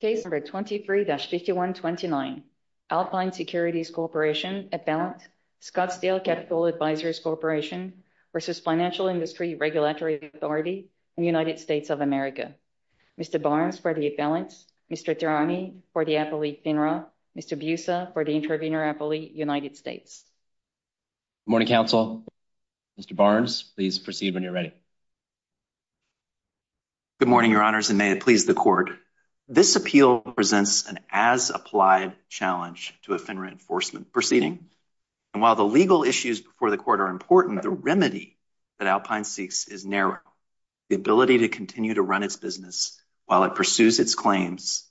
Case number 23-6129, Alpine Securities Corporation, Appellant, Scottsdale Capital Advisors Corporation v. Financial Industry Regulatory Authority, United States of America. Mr. Barnes for the appellant, Mr. Taurani for the appellee FINRA, Mr. Busa for the intervener appellee, United States. Good morning, counsel. Mr. Barnes, please proceed when you're ready. Good morning, your honors, and may it please the court. This appeal presents an as-applied challenge to a FINRA enforcement proceeding. And while the legal issues before the court are important, the remedy that Alpine seeks is narrow. The ability to continue to run its business while it pursues its claims,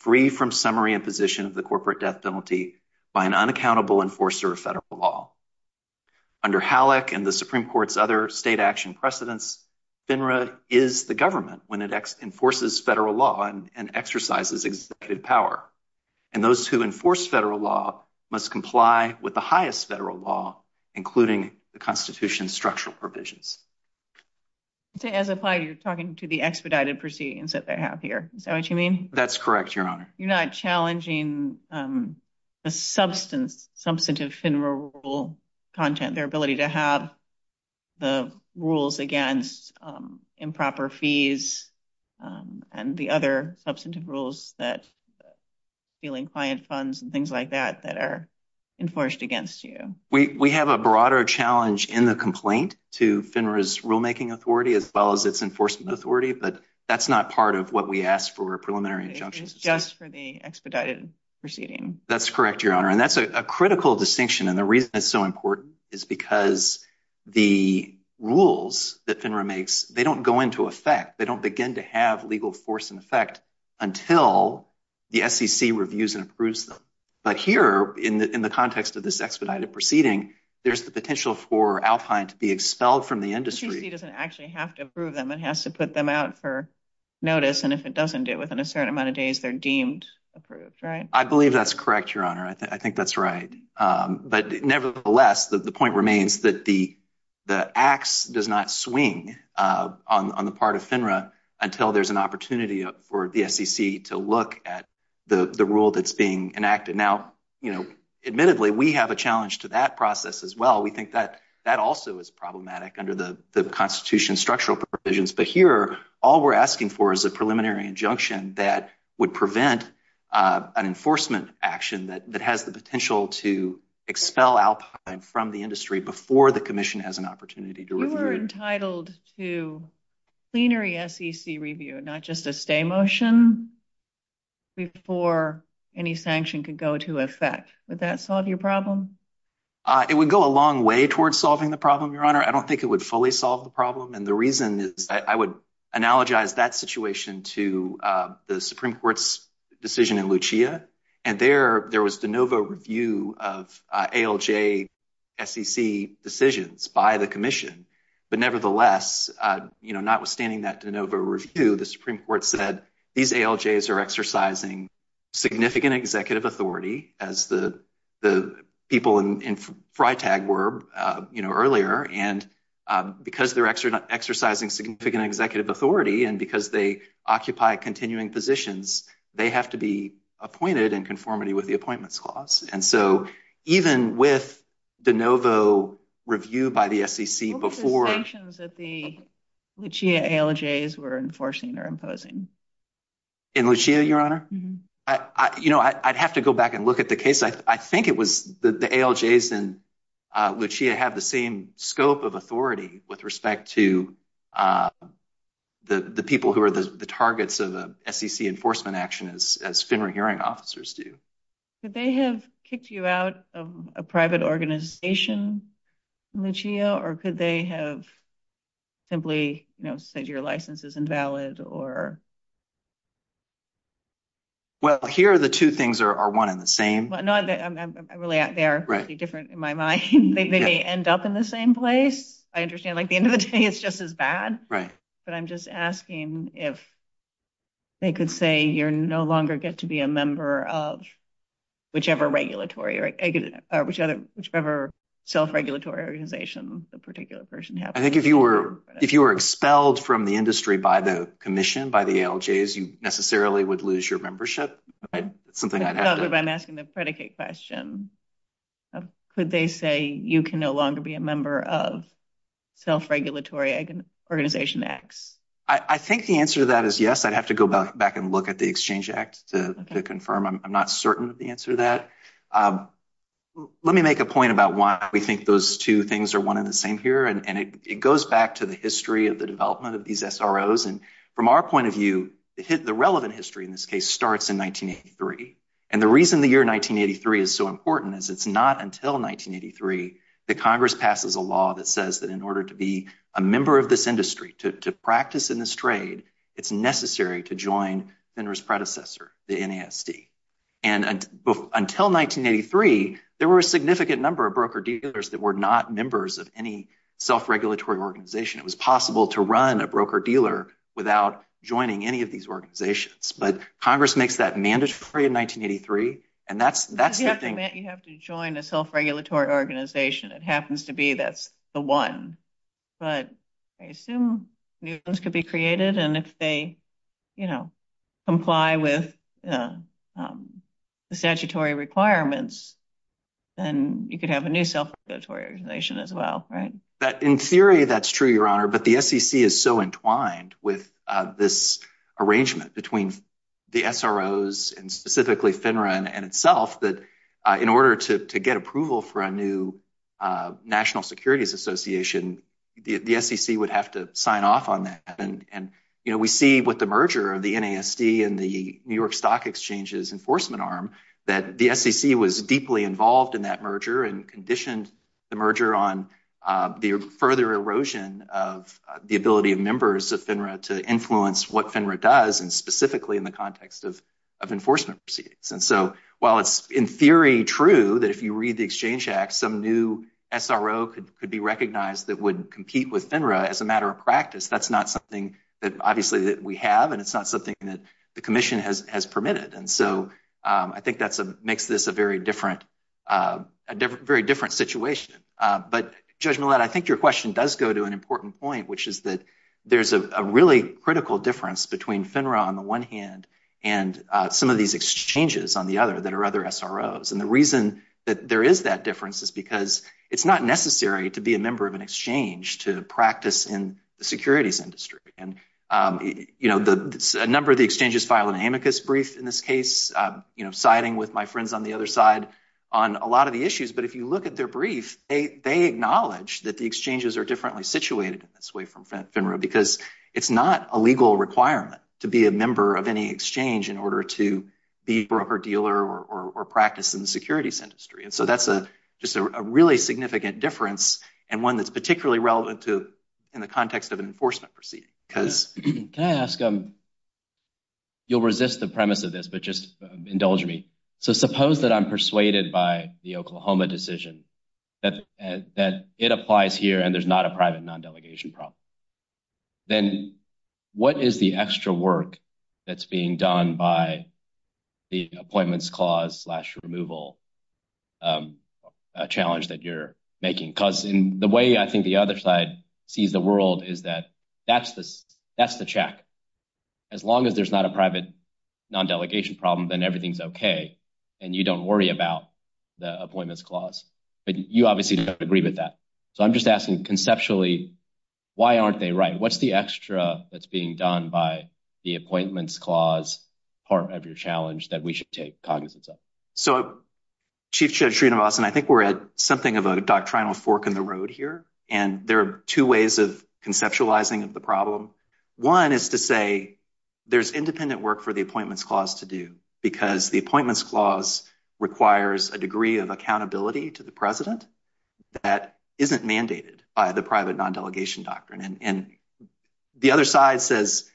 free from summary and position of the corporate death penalty by an unaccountable enforcer of federal law. Under HALAC and the Supreme Court's other state action precedents, FINRA is the government when it enforces federal law and exercises executive power. And those who enforce federal law must comply with the highest federal law, including the Constitution's structural provisions. As applied, you're talking to the expedited proceedings that they have here. Is that what you mean? That's correct, your honor. You're not challenging the substantive FINRA rule content, their ability to have the rules against improper fees and the other substantive rules that ceiling client funds and things like that that are enforced against you. We have a broader challenge in the complaint to FINRA's rulemaking authority as well as its enforcement authority, but that's not part of what we ask for preliminary injunctions. It's just for the expedited proceeding. That's correct, your honor. And that's a critical distinction. And the reason it's so important is because the rules that FINRA makes, they don't go into effect. They don't begin to have legal force in effect until the SEC reviews and approves them. But here in the context of this expedited proceeding, there's the potential for Alpine to be expelled from the industry. The SEC doesn't actually have to approve them. It has to put them out for notice. And if it doesn't do it within a certain amount of days, they're deemed approved. I believe that's correct, your honor. I think that's right. But nevertheless, the point remains that the axe does not swing on the part of FINRA until there's an opportunity for the SEC to look at the rule that's being enacted. Now, you know, admittedly, we have a challenge to that process as well. We think that that also is problematic under the Constitution's structural provisions. But here, all we're asking for is a preliminary injunction that would prevent an enforcement action that has the potential to expel Alpine from the industry before the commission has an opportunity to review it. You're entitled to plenary SEC review, not just a stay motion, before any sanction could go to effect. Would that solve your problem? It would go a long way towards solving the problem, your honor. I don't think it would fully solve the problem. And the reason is I would analogize that situation to the Supreme Court's decision in Lucia. And there was de novo review of ALJ SEC decisions by the commission. But nevertheless, you know, notwithstanding that de novo review, the Supreme Court said these ALJs are exercising significant executive authority, as the people in FriTag were, you know, earlier. And because they're exercising significant executive authority and because they occupy continuing positions, they have to be appointed in conformity with the Appointments Clause. And so even with the de novo review by the SEC before… What were the sanctions that the Lucia ALJs were enforcing or imposing? In Lucia, your honor? You know, I'd have to go back and look at the case. I think it was the ALJs in Lucia have the same scope of authority with respect to the people who are the targets of SEC enforcement action, as FINRA hearing officers do. Could they have kicked you out of a private organization, Lucia, or could they have simply, you know, said your license is invalid or… Well, here the two things are one and the same. I'm really out there. It's different in my mind. They may end up in the same place. I understand, like, the end of the day, it's just as bad. But I'm just asking if they could say you no longer get to be a member of whichever self-regulatory organization the particular person has. I think if you were expelled from the industry by the commission, by the ALJs, you necessarily would lose your membership. If I'm asking the predicate question, could they say you can no longer be a member of self-regulatory organization X? I think the answer to that is yes. I'd have to go back and look at the Exchange Act to confirm. I'm not certain of the answer to that. Let me make a point about why we think those two things are one and the same here. And it goes back to the history of the development of these SROs. And from our point of view, the relevant history in this case starts in 1983. And the reason the year 1983 is so important is it's not until 1983 that Congress passes a law that says that in order to be a member of this industry, to practice in this trade, it's necessary to join FINRA's predecessor, the NASD. And until 1983, there were a significant number of broker-dealers that were not members of any self-regulatory organization. It was possible to run a broker-dealer without joining any of these organizations. But Congress makes that mandatory in 1983. You have to join a self-regulatory organization. It happens to be that's the one. But I assume new ones could be created. And if they comply with the statutory requirements, then you could have a new self-regulatory organization as well. In theory, that's true, Your Honor. But the SEC is so entwined with this arrangement between the SROs and specifically FINRA in itself that in order to get approval for a new National Securities Association, the SEC would have to sign off on that. And we see with the merger of the NASD and the New York Stock Exchange's enforcement arm that the SEC was deeply involved in that merger and conditioned the merger on the further erosion of the ability of members of FINRA to influence what FINRA does and specifically in the context of enforcement proceedings. And so while it's in theory true that if you read the Exchange Act, some new SRO could be recognized that would compete with FINRA as a matter of practice, that's not something that obviously we have and it's not something that the Commission has permitted. And so I think that makes this a very different situation. But Judge Millett, I think your question does go to an important point, which is that there's a really critical difference between FINRA on the one hand and some of these exchanges on the other that are other SROs. And the reason that there is that difference is because it's not necessary to be a member of an exchange to practice in the securities industry. And a number of the exchanges file an amicus brief in this case, siding with my friends on the other side on a lot of the issues. But if you look at their brief, they acknowledge that the exchanges are differently situated in this way from FINRA because it's not a legal requirement to be a member of any exchange in order to be broker dealer or practice in the securities industry. And so that's just a really significant difference and one that's particularly relevant in the context of enforcement proceedings. Can I ask, you'll resist the premise of this, but just indulge me. So suppose that I'm persuaded by the Oklahoma decision that it applies here and there's not a private non-delegation problem. Then what is the extra work that's being done by the appointments clause slash removal challenge that you're making? Because the way I think the other side sees the world is that that's the check. As long as there's not a private non-delegation problem, then everything's okay and you don't worry about the appointments clause. But you obviously don't have to agree with that. So I'm just asking conceptually, why aren't they right? What's the extra that's being done by the appointments clause part of your challenge that we should take cognizance of? So Chief Judge Sreenivasan, I think we're at something of a doctrinal fork in the road here. And there are two ways of conceptualizing the problem. One is to say there's independent work for the appointments clause to do because the appointments clause requires a degree of accountability to the president that isn't mandated by the private non-delegation doctrine. And the other side says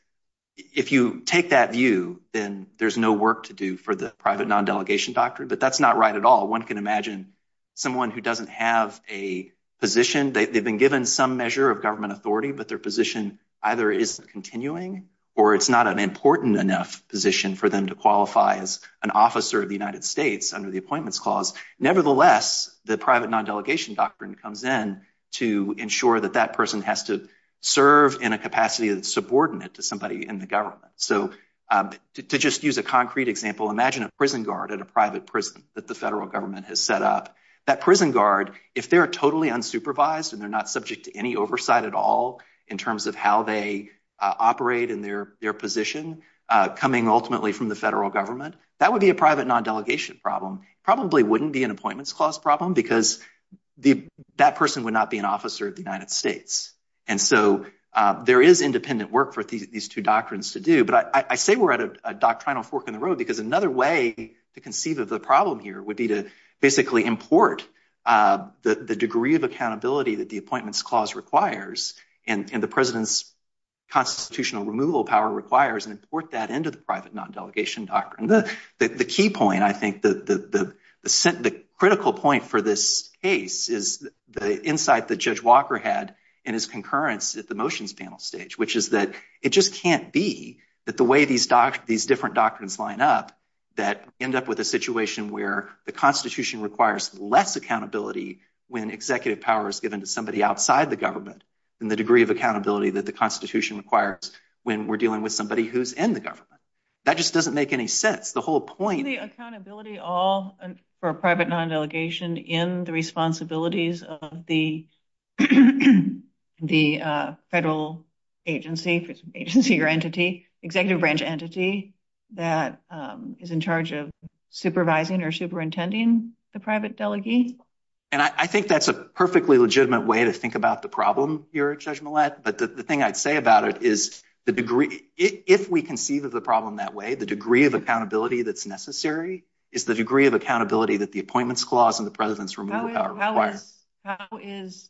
if you take that view, then there's no work to do for the private non-delegation doctrine. But that's not right at all. One can imagine someone who doesn't have a position. They've been given some measure of government authority, but their position either isn't continuing or it's not an important enough position for them to qualify as an officer of the United States under the appointments clause. Nevertheless, the private non-delegation doctrine comes in to ensure that that person has to serve in a capacity of subordinate to somebody in the government. So to just use a concrete example, imagine a prison guard at a private prison that the federal government has set up. That prison guard, if they're totally unsupervised and they're not subject to any oversight at all in terms of how they operate in their position coming ultimately from the federal government, that would be a private non-delegation problem. It probably wouldn't be an appointments clause problem because that person would not be an officer of the United States. And so there is independent work for these two doctrines to do. But I say we're at a doctrinal fork in the road because another way to conceive of the problem here would be to basically import the degree of accountability that the appointments clause requires and the president's constitutional removal power requires and import that into the private non-delegation doctrine. The key point, I think, the critical point for this case is the insight that Judge Walker had in his concurrence at the motions panel stage, which is that it just can't be that the way these different doctrines line up that end up with a situation where the Constitution requires less accountability when executive power is given to somebody outside the government than the degree of accountability that the Constitution requires when we're dealing with somebody who's in the government. That just doesn't make any sense. The whole point— Isn't the accountability all for a private non-delegation in the responsibilities of the federal agency or entity, executive branch entity, that is in charge of supervising or superintending the private delegee? I think that's a perfectly legitimate way to think about the problem here, Judge Millett, but the thing I'd say about it is if we conceive of the problem that way, the degree of accountability that's necessary is the degree of accountability that the appointments clause and the president's removal power require. How is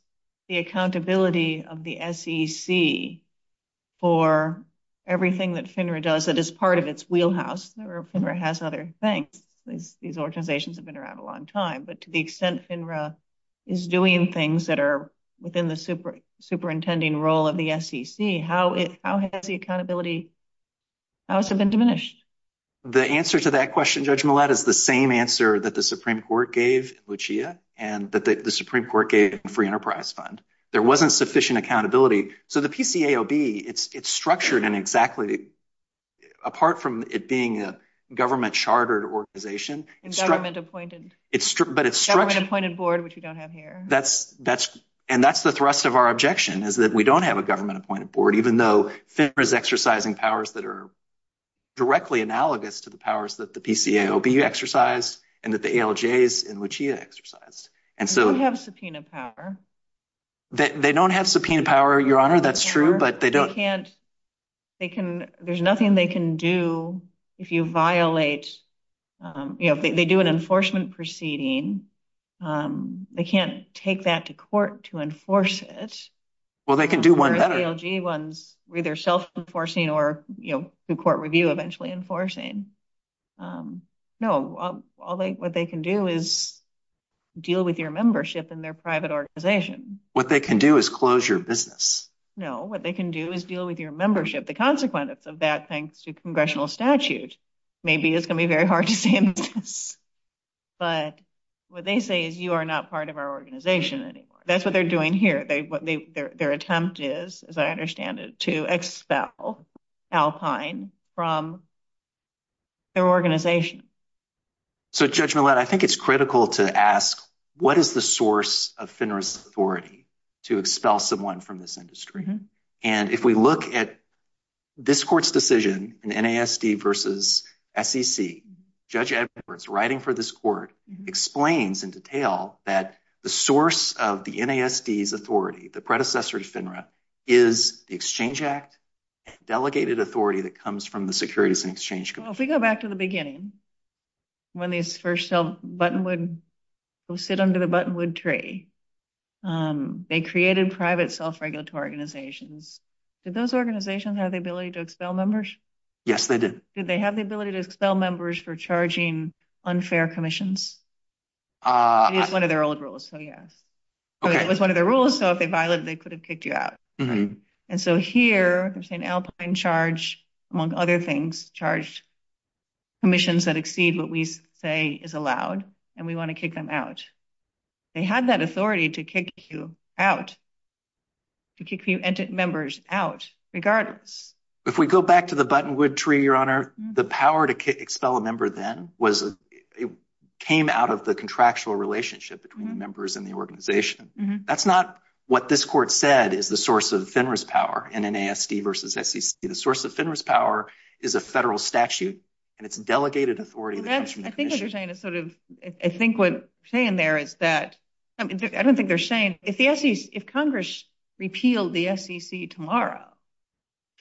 the accountability of the SEC for everything that FINRA does that is part of its wheelhouse? FINRA has other things. These organizations have been around a long time, but to the extent FINRA is doing things that are within the superintending role of the SEC, how has the accountability been diminished? The answer to that question, Judge Millett, is the same answer that the Supreme Court gave Lucia and that the Supreme Court gave the Free Enterprise Fund. There wasn't sufficient accountability. So the PCAOB, it's structured in exactly—apart from it being a government-chartered organization— Government-appointed board, which we don't have here. And that's the thrust of our objection, is that we don't have a government-appointed board, even though FINRA is exercising powers that are directly analogous to the powers that the PCAOB exercise and that the ALJs and Lucia exercise. They don't have subpoena power. They don't have subpoena power, Your Honor, that's true, but they don't— There's nothing they can do if you violate—if they do an enforcement proceeding, they can't take that to court to enforce it. Well, they can do whatever. The ALJ ones are either self-enforcing or, through court review, eventually enforcing. No, what they can do is deal with your membership in their private organization. What they can do is close your business. No, what they can do is deal with your membership. The consequence of that, thanks to congressional statute—maybe it's going to be very hard to say in this case—but what they say is, you are not part of our organization anymore. That's what they're doing here. Their attempt is, as I understand it, to expel Alpine from their organization. So, Judge Millett, I think it's critical to ask, what is the source of FINRA's authority to expel someone from this industry? And if we look at this court's decision in NASD versus SEC, Judge Edwards, writing for this court, explains in detail that the source of the NASD's authority, the predecessor to FINRA, is the Exchange Act, a delegated authority that comes from the Securities and Exchange Commission. If we go back to the beginning, when these first self-buttonwood—who sit under the buttonwood tree, they created private self-regulatory organizations. Did those organizations have the ability to expel members? Yes, they did. Did they have the ability to expel members for charging unfair commissions? It is one of their old rules, so yes. It was one of their rules, so if they violated it, they could have kicked you out. And so here, an Alpine charge, among other things, charged commissions that exceed what we say is allowed, and we want to kick them out. They had that authority to kick you out, to kick members out, regardless. If we go back to the buttonwood tree, Your Honor, the power to expel a member then came out of the contractual relationship between the members and the organization. That's not what this court said is the source of FINRA's power in an ASD versus SEC. The source of FINRA's power is a federal statute, and it's a delegated authority. I think what you're saying is sort of—I think what you're saying there is that—I don't think they're saying if Congress repealed the SEC tomorrow,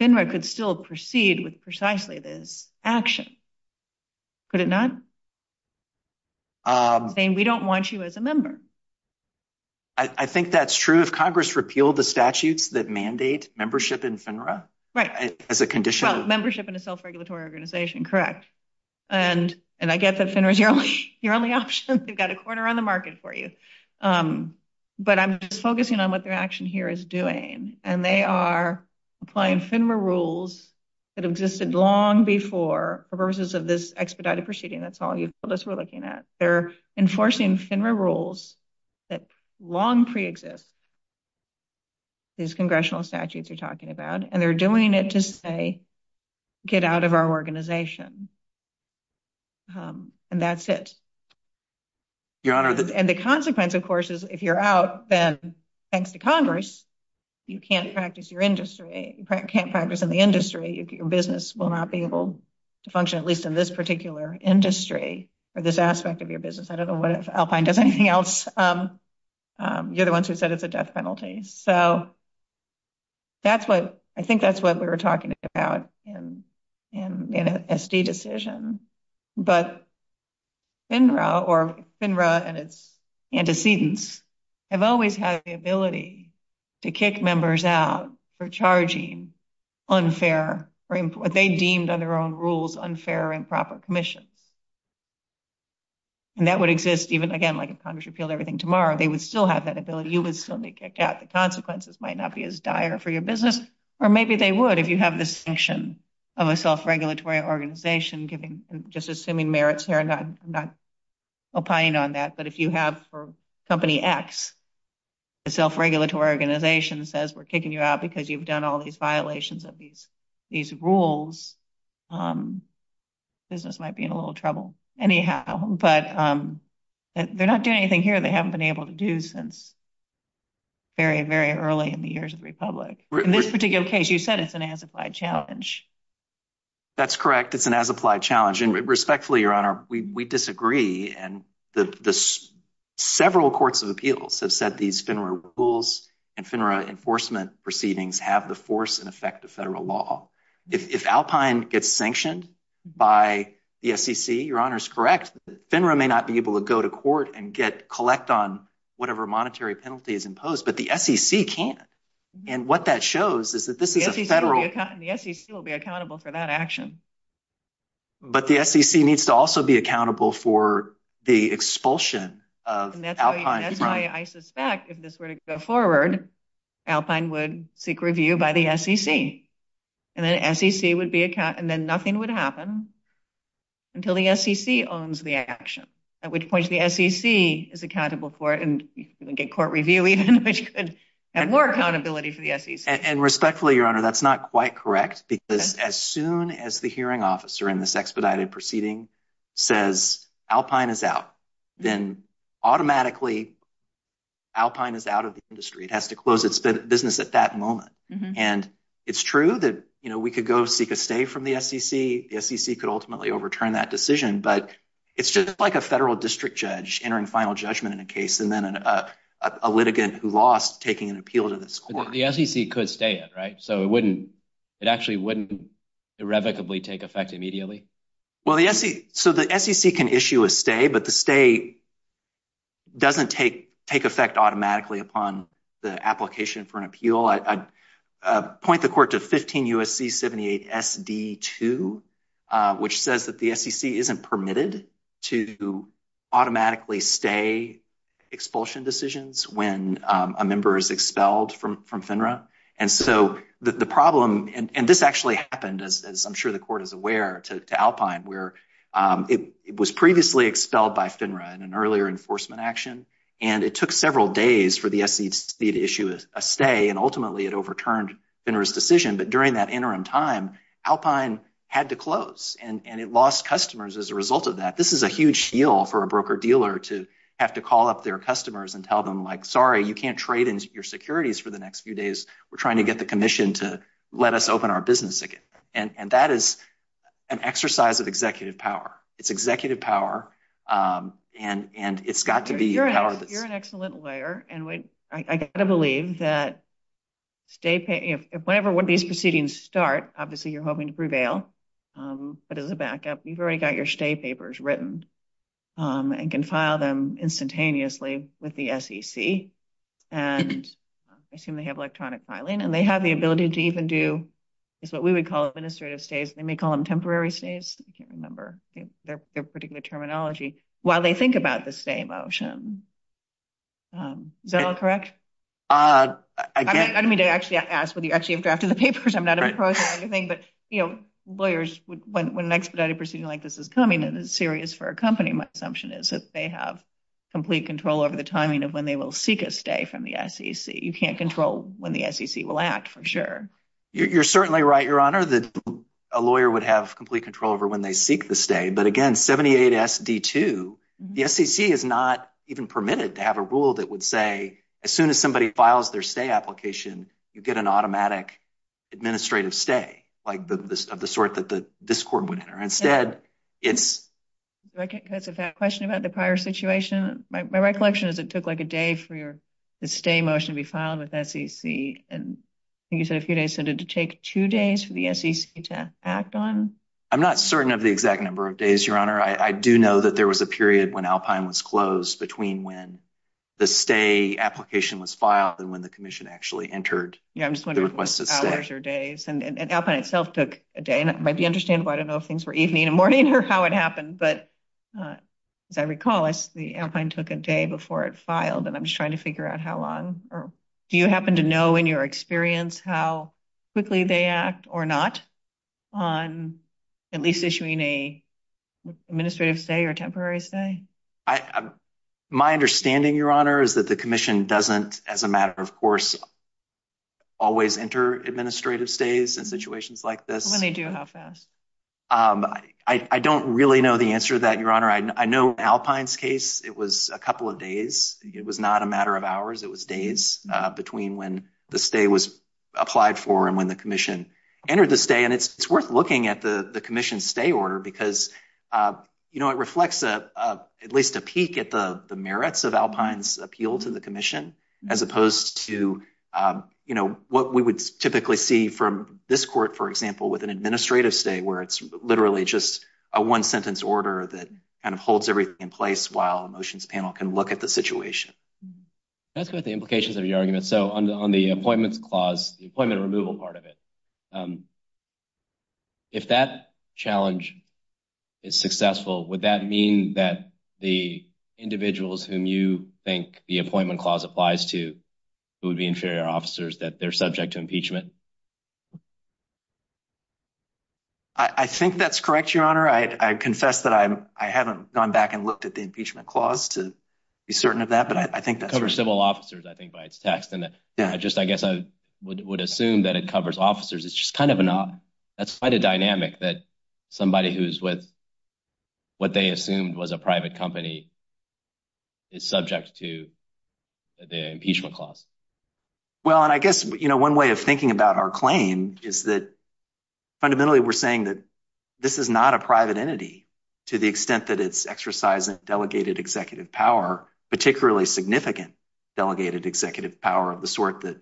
FINRA could still proceed with precisely this action. Could it not? They're saying we don't want you as a member. I think that's true. If Congress repealed the statutes that mandate membership in FINRA as a condition of— Membership in a self-regulatory organization, correct. And I get that FINRA's your only option. They've got a corner on the market for you. But I'm just focusing on what their action here is doing, and they are applying FINRA rules that existed long before, versus this expedited proceeding. That's all you told us we're looking at. They're enforcing FINRA rules that long preexist, these congressional statutes you're talking about, and they're doing it to say, get out of our organization. And that's it. And the consequence, of course, is if you're out, then thanks to Congress, you can't practice in the industry. Your business will not be able to function, at least in this particular industry or this aspect of your business. I don't know what Alpine does anything else. You're the ones who said it's a death penalty. So I think that's what we were talking about in an SD decision. But FINRA, or FINRA and its antecedents, have always had the ability to kick members out for charging unfair, what they deemed under their own rules, unfair or improper commission. And that would exist even, again, like if Congress repealed everything tomorrow, they would still have that ability. You would still be kicked out. The consequences might not be as dire for your business. Or maybe they would, if you have a distinction of a self-regulatory organization, just assuming merits there. I'm not opining on that. But if you have for company X, the self-regulatory organization says we're kicking you out because you've done all these violations of these rules, business might be in a little trouble. Anyhow, but they're not doing anything here they haven't been able to do since very, very early in the years of Republic. In this particular case, you said it's an as-applied challenge. That's correct. It's an as-applied challenge. And respectfully, Your Honor, we disagree. And the several courts of appeals have said these FINRA rules and FINRA enforcement proceedings have the force and effect of federal law. If Alpine gets sanctioned by the SEC, Your Honor is correct. FINRA may not be able to go to court and get collect on whatever monetary penalty is imposed, but the SEC can. And what that shows is that this is a federal... The SEC will be accountable for that action. But the SEC needs to also be accountable for the expulsion of Alpine. And that's why I suspect if this were to go forward, Alpine would seek review by the SEC. And then nothing would happen until the SEC owns the action, at which point the SEC is accountable for it and get court review even, which could add more accountability to the SEC. And respectfully, Your Honor, that's not quite correct because as soon as the hearing officer in this expedited proceeding says Alpine is out, then automatically Alpine is out of the industry. It has to close its business at that moment. And it's true that we could go seek a stay from the SEC. The SEC could ultimately overturn that decision. But it's just like a federal district judge entering final judgment in a case and then a litigant who lost taking an appeal to the court. The SEC could stay, right? So it actually wouldn't irrevocably take effect immediately? So the SEC can issue a stay, but the stay doesn't take effect automatically upon the application for an appeal. I point the court to 15 U.S.C. 78 SD2, which says that the SEC isn't permitted to automatically stay expulsion decisions when a member is expelled from FINRA. And this actually happened, as I'm sure the court is aware, to Alpine, where it was previously expelled by FINRA in an earlier enforcement action. And it took several days for the SEC to issue a stay, and ultimately it overturned FINRA's decision. But during that interim time, Alpine had to close, and it lost customers as a result of that. This is a huge deal for a broker-dealer to have to call up their customers and tell them, like, sorry, you can't trade in your securities for the next few days. We're trying to get the commission to let us open our business again. And that is an exercise of executive power. It's executive power, and it's got to be… Well, you're an excellent lawyer, and I've got to believe that whenever one of these proceedings start, obviously you're hoping to prevail. But as a backup, you've already got your stay papers written and can file them instantaneously with the SEC. And I assume they have electronic filing, and they have the ability to even do what we would call administrative stays. They may call them temporary stays. I can't remember their particular terminology. While they think about the stay motion. Is that all correct? I mean, they actually ask for the actual draft of the papers. I'm not opposed to anything. But, you know, lawyers, when an expedited proceeding like this is coming and it's serious for a company, my assumption is that they have complete control over the timing of when they will seek a stay from the SEC. You can't control when the SEC will act, for sure. You're certainly right, Your Honor, that a lawyer would have complete control over when they seek the stay. But again, 78SD2, the SEC is not even permitted to have a rule that would say as soon as somebody files their stay application, you get an automatic administrative stay of the sort that this court would enter. Instead, it's… That's a question about the prior situation. My recollection is it took like a day for the stay motion to be filed with SEC. And you said a few days. So did it take two days for the SEC to act on? I'm not certain of the exact number of days, Your Honor. I do know that there was a period when Alpine was closed between when the stay application was filed and when the commission actually entered. Yeah, I'm just wondering what hours or days. And Alpine itself took a day. And it might be understandable. I don't know if things were evening and morning or how it happened. But if I recall, Alpine took a day before it filed. And I'm just trying to figure out how long. Do you happen to know in your experience how quickly they act or not on at least issuing an administrative stay or temporary stay? My understanding, Your Honor, is that the commission doesn't, as a matter of course, always enter administrative stays in situations like this. When they do, how fast? I don't really know the answer to that, Your Honor. I know Alpine's case, it was a couple of days. It was not a matter of hours. It was days between when the stay was applied for and when the commission entered the stay. And it's worth looking at the commission stay order because, you know, it reflects at least a peek at the merits of Alpine's appeal to the commission as opposed to, you know, what we would typically see from this court, for example, with an administrative stay, where it's literally just a one-sentence order that kind of holds everything in place while a motions panel can look at the situation. That's what the implications of your argument. So on the appointment clause, the appointment removal part of it, if that challenge is successful, would that mean that the individuals whom you think the appointment clause applies to, who would be inferior officers, that they're subject to impeachment? I think that's correct, Your Honor. I confess that I haven't gone back and looked at the impeachment clause to be certain of that. It covers civil officers, I think, by its text. I guess I would assume that it covers officers. That's quite a dynamic that somebody who's with what they assumed was a private company is subject to the impeachment clause. Well, and I guess, you know, one way of thinking about our claim is that fundamentally we're saying that this is not a private entity to the extent that it's exercising delegated executive power, particularly significant delegated executive power of the sort that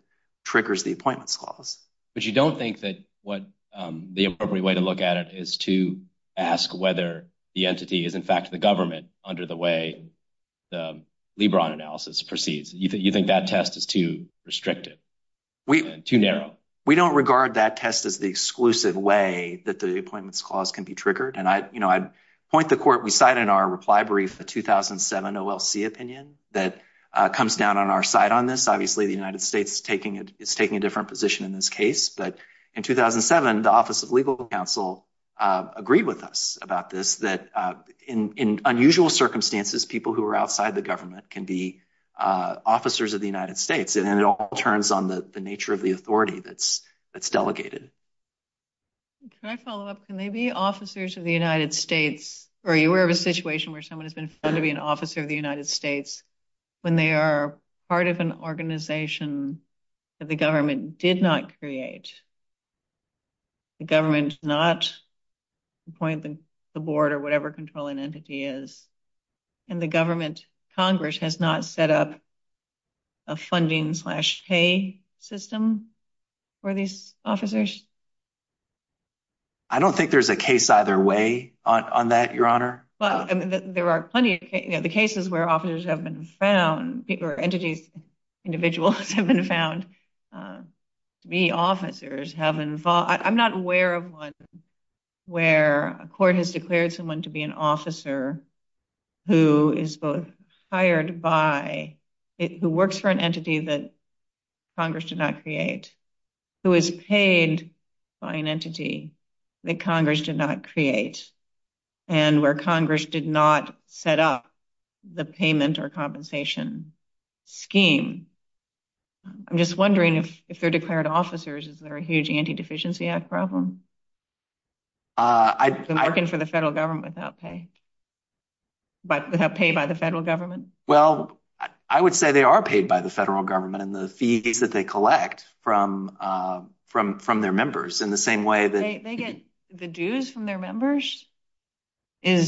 triggers the appointment clause. But you don't think that what the appropriate way to look at it is to ask whether the entity is in fact the government under the way the LeBron analysis proceeds. You think that test is too restrictive, too narrow? We don't regard that test as the exclusive way that the appointment clause can be triggered. And, you know, I'd point the court beside in our reply brief the 2007 OLC opinion that comes down on our side on this. Obviously, the United States is taking a different position in this case. But in 2007, the Office of Legal Counsel agreed with us about this, that in unusual circumstances, people who are outside the government can be officers of the United States. And it all turns on the nature of the authority that's delegated. Can I follow up? Can they be officers of the United States? Or are you aware of a situation where someone has been found to be an officer of the United States when they are part of an organization that the government did not create? The government is not appointing the board or whatever controlling entity is. And the government, Congress, has not set up a funding slash pay system for these officers? I don't think there's a case either way on that, Your Honor. Well, there are plenty of cases where officers have been found, or entities, individuals have been found to be officers. I'm not aware of one where a court has declared someone to be an officer who is both hired by, who works for an entity that Congress did not create, who is paid by an entity that Congress did not create. And where Congress did not set up the payment or compensation scheme. I'm just wondering if they're declared officers, is there a huge anti-deficiency act problem? They're working for the federal government without pay. But without pay by the federal government? Well, I would say they are paid by the federal government and the fees that they collect from their members in the same way that... They get the dues from their members? Yeah,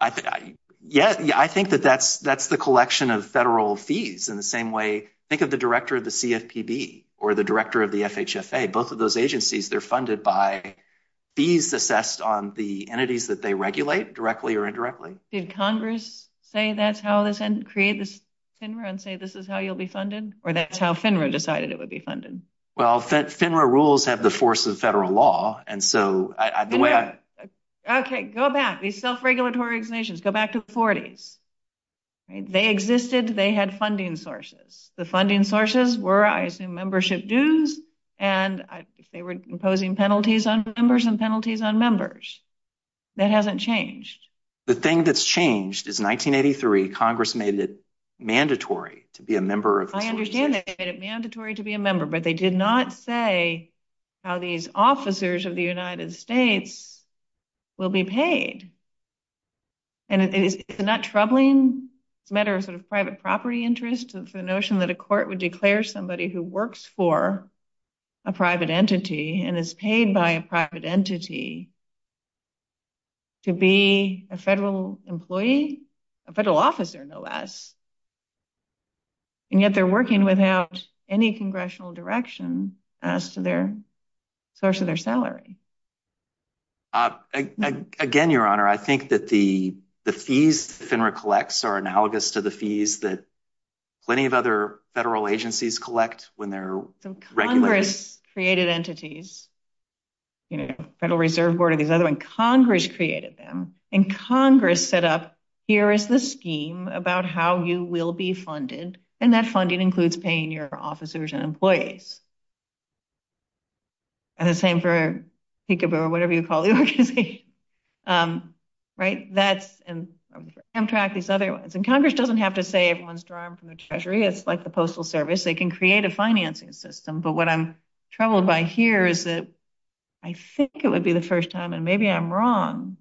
I think that that's the collection of federal fees in the same way. Think of the director of the CFPB or the director of the FHFA. Both of those agencies, they're funded by fees assessed on the entities that they regulate, directly or indirectly. Did Congress say that's how this, create this FINRA and say this is how you'll be funded? Well, FINRA rules have the force of federal law, and so... Okay, go back. These self-regulatory extensions, go back to the 40s. They existed, they had funding sources. The funding sources were, I assume, membership dues, and they were imposing penalties on members and penalties on members. That hasn't changed. The thing that's changed is 1983, Congress made it mandatory to be a member of... I understand that they made it mandatory to be a member, but they did not say how these officers of the United States will be paid. And isn't that troubling? Matter of private property interest, the notion that a court would declare somebody who works for a private entity and is paid by a private entity to be a federal employee? A federal officer, no less. And yet they're working without any congressional direction as to their source of their salary. Again, Your Honor, I think that the fees FINRA collects are analogous to the fees that plenty of other federal agencies collect when they're... Congress created entities, you know, Federal Reserve Board and these other ones. Congress created them, and Congress set up, here is the scheme about how you will be funded, and that funding includes paying your officers and employees. And the same for Peekaboo or whatever you call the organization. Right? And Congress doesn't have to say everyone's drawn from the Treasury, it's like the Postal Service. They can create a financing system, but what I'm troubled by here is that I think it would be the first time, and maybe I'm wrong,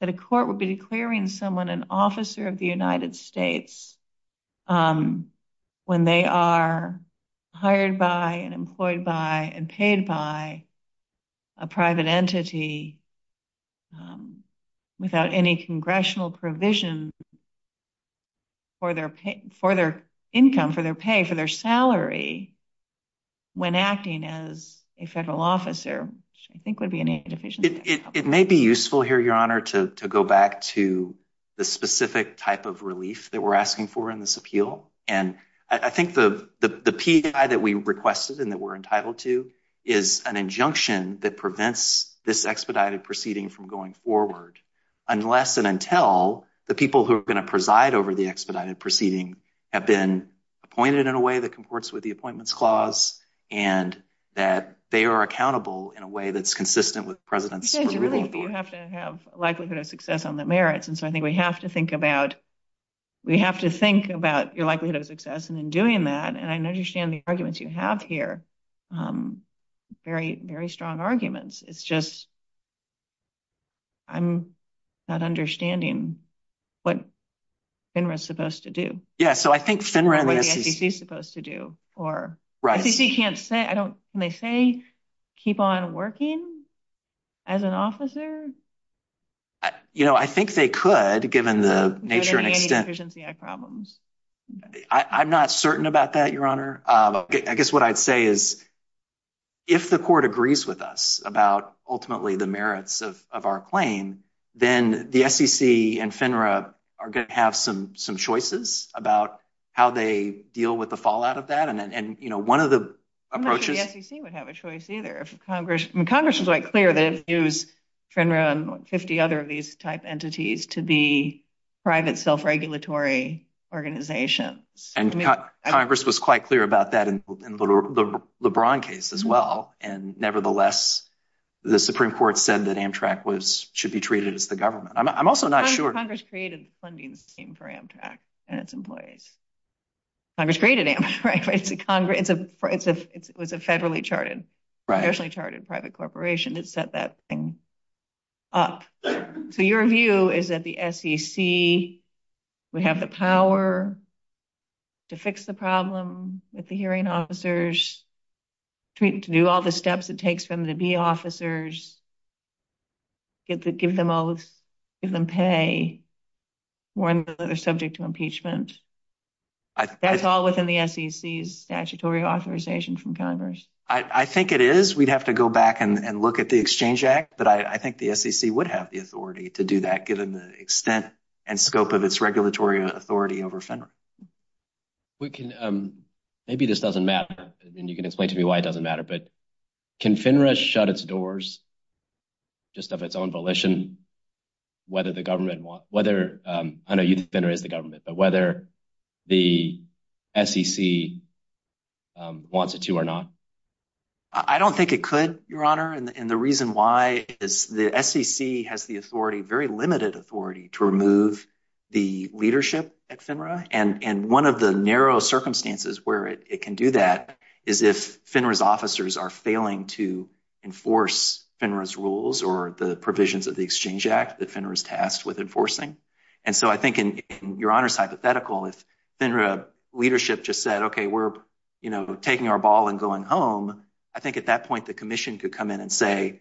that a court would be declaring someone an officer of the United States when they are hired by and employed by and paid by a private entity without any congressional provision for their income, for their pay, for their salary when acting as a federal officer, which I think would be inefficient. It may be useful here, Your Honor, to go back to the specific type of relief that we're asking for in this appeal. And I think the PEI that we requested and that we're entitled to is an injunction that prevents this expedited proceeding from going forward unless and until the people who are going to preside over the expedited proceeding have been appointed in a way that comports with the Appointments Clause and that they are accountable in a way that's consistent with the President's... You have to have likelihood of success on the merits, and so I think we have to think about your likelihood of success in doing that, and I understand the arguments you have here, very strong arguments. It's just I'm not understanding what FINRA's supposed to do. Yeah, so I think FINRA... Right. You know, I think they could, given the nature and extent... I'm not certain about that, Your Honor. I guess what I'd say is if the court agrees with us about ultimately the merits of our claim, then the SEC and FINRA are going to have some choices about how they deal with the fallout of that, and one of the approaches... I'm not sure the SEC would have a choice either. Congress is quite clear that it views FINRA and 50 other of these type entities to be private self-regulatory organizations. And Congress was quite clear about that in the LeBron case as well, and nevertheless, the Supreme Court said that Amtrak should be treated as the government. I'm also not sure... Congress created the funding scheme for Amtrak and its employees. Congress created Amtrak. It was a federally charted, nationally charted private corporation that set that thing up. So your view is that the SEC would have the power to fix the problem with the hearing officers, to do all the steps it takes them to be officers, to give them pay, one that is subject to impeachment. That's all within the SEC's statutory authorization from Congress. I think it is. We'd have to go back and look at the Exchange Act, but I think the SEC would have the authority to do that, given the extent and scope of its regulatory authority over FINRA. Maybe this doesn't matter, and you can explain to me why it doesn't matter, but can FINRA shut its doors, just of its own volition, whether the government... I know you think FINRA is the government, but whether the SEC wants it to or not? I don't think it could, Your Honor, and the reason why is the SEC has the authority, very limited authority, to remove the leadership at FINRA, and one of the narrow circumstances where it can do that is if FINRA's officers are failing to enforce FINRA's rules or the provisions of the Exchange Act that FINRA's tasked with enforcing. And so I think, and Your Honor's hypothetical, if FINRA leadership just said, okay, we're taking our ball and going home, I think at that point the Commission could come in and say,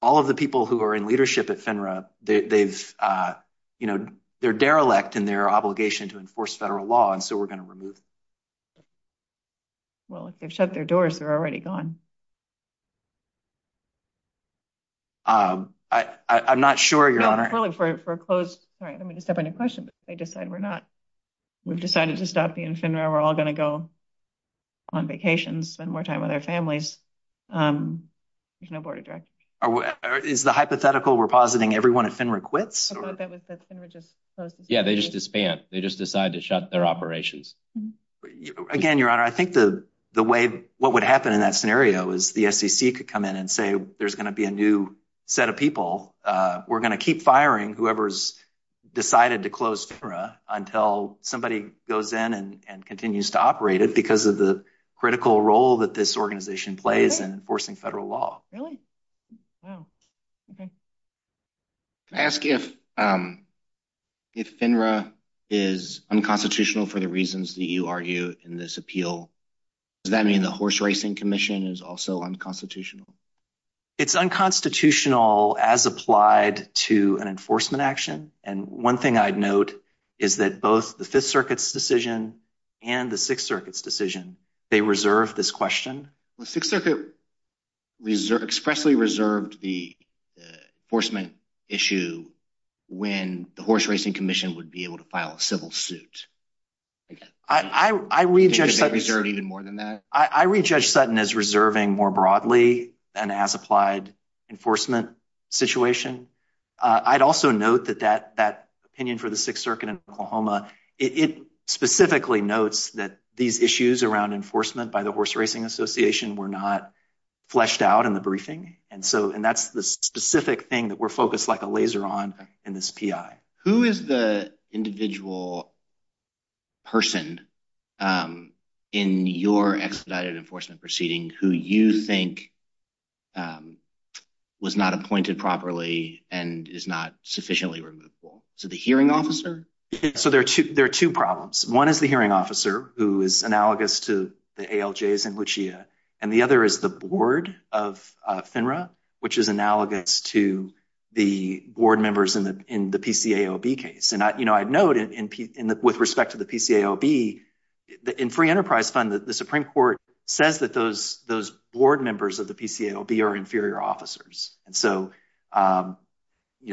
all of the people who are in leadership at FINRA, they're derelict in their obligation to enforce federal law, and so we're going to remove them. Well, if they've shut their doors, they're already gone. Sorry, I don't mean to stop any questions, but if they decide we're not, we've decided to stop being FINRA, we're all going to go on vacations and spend more time with our families, there's no board of directors. Is the hypothetical we're positing everyone at FINRA quits? I thought that was that FINRA just closed. Yeah, they just disbanded. They just decided to shut their operations. Again, Your Honor, I think the way, what would happen in that scenario is the SEC could come in and say, there's going to be a new set of people. We're going to keep firing whoever's decided to close FINRA until somebody goes in and continues to operate it because of the critical role that this organization plays in enforcing federal law. Really? Wow. Okay. Can I ask if FINRA is unconstitutional for the reasons that you argue in this appeal? Does that mean the Horse Racing Commission is also unconstitutional? It's unconstitutional as applied to an enforcement action, and one thing I'd note is that both the Fifth Circuit's decision and the Sixth Circuit's decision, they reserved this question. The Sixth Circuit expressly reserved the enforcement issue when the Horse Racing Commission would be able to file a civil suit. I read Judge Sutton as reserving more broadly than as applied enforcement situation. I'd also note that that opinion for the Sixth Circuit in Oklahoma, it specifically notes that these issues around enforcement by the Horse Racing Association were not fleshed out in the briefing, and that's the specific thing that we're focused like a laser on in this PI. Who is the individual person in your expedited enforcement proceeding who you think was not appointed properly and is not sufficiently removable? Is it the hearing officer? There are two problems. One is the hearing officer, who is analogous to the ALJs in Wichita, and the other is the board of FINRA, which is analogous to the board members in the PCAOB case. I'd note with respect to the PCAOB, in Free Enterprise Fund, the Supreme Court says that those board members of the PCAOB are inferior officers, and so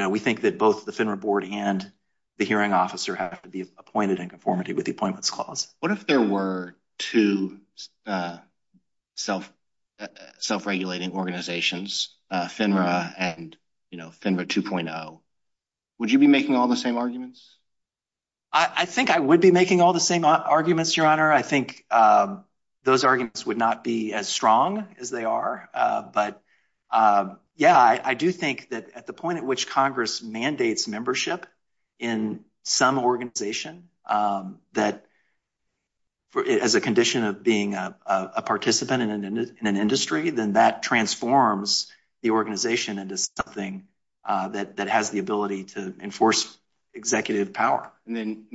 we think that both the FINRA board and the hearing officer have to be appointed in conformity with the Appointments Clause. What if there were two self-regulating organizations, FINRA and FINRA 2.0? Would you be making all the same arguments? I think I would be making all the same arguments, Your Honor. I think those arguments would not be as strong as they are, but yeah, I do think that at the point at which Congress mandates membership in some organization as a condition of being a participant in an industry, then that transforms the organization into something that has the ability to enforce executive power. And then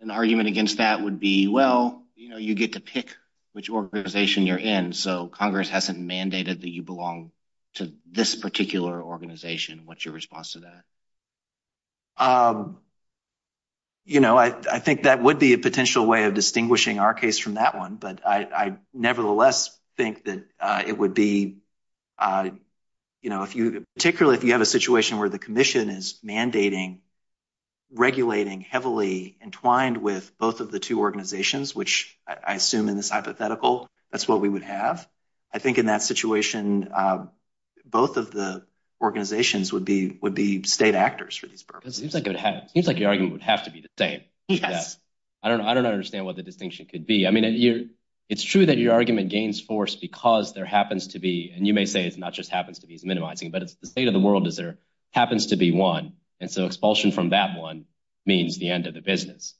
an argument against that would be, well, you get to pick which organization you're in, so Congress hasn't mandated that you belong to this particular organization. What's your response to that? You know, I think that would be a potential way of distinguishing our case from that one, but I nevertheless think that it would be, you know, particularly if you have a situation where the commission is mandating, regulating heavily entwined with both of the two organizations, which I assume in this hypothetical, that's what we would have. I think in that situation, both of the organizations would be state actors for this purpose. It seems like your argument would have to be the same. I don't understand what the distinction could be. I mean, it's true that your argument gains force because there happens to be, and you may say it's not just happens to be, it's minimizing, but it's the state of the world is there happens to be one, and so expulsion from that one means the end of the business.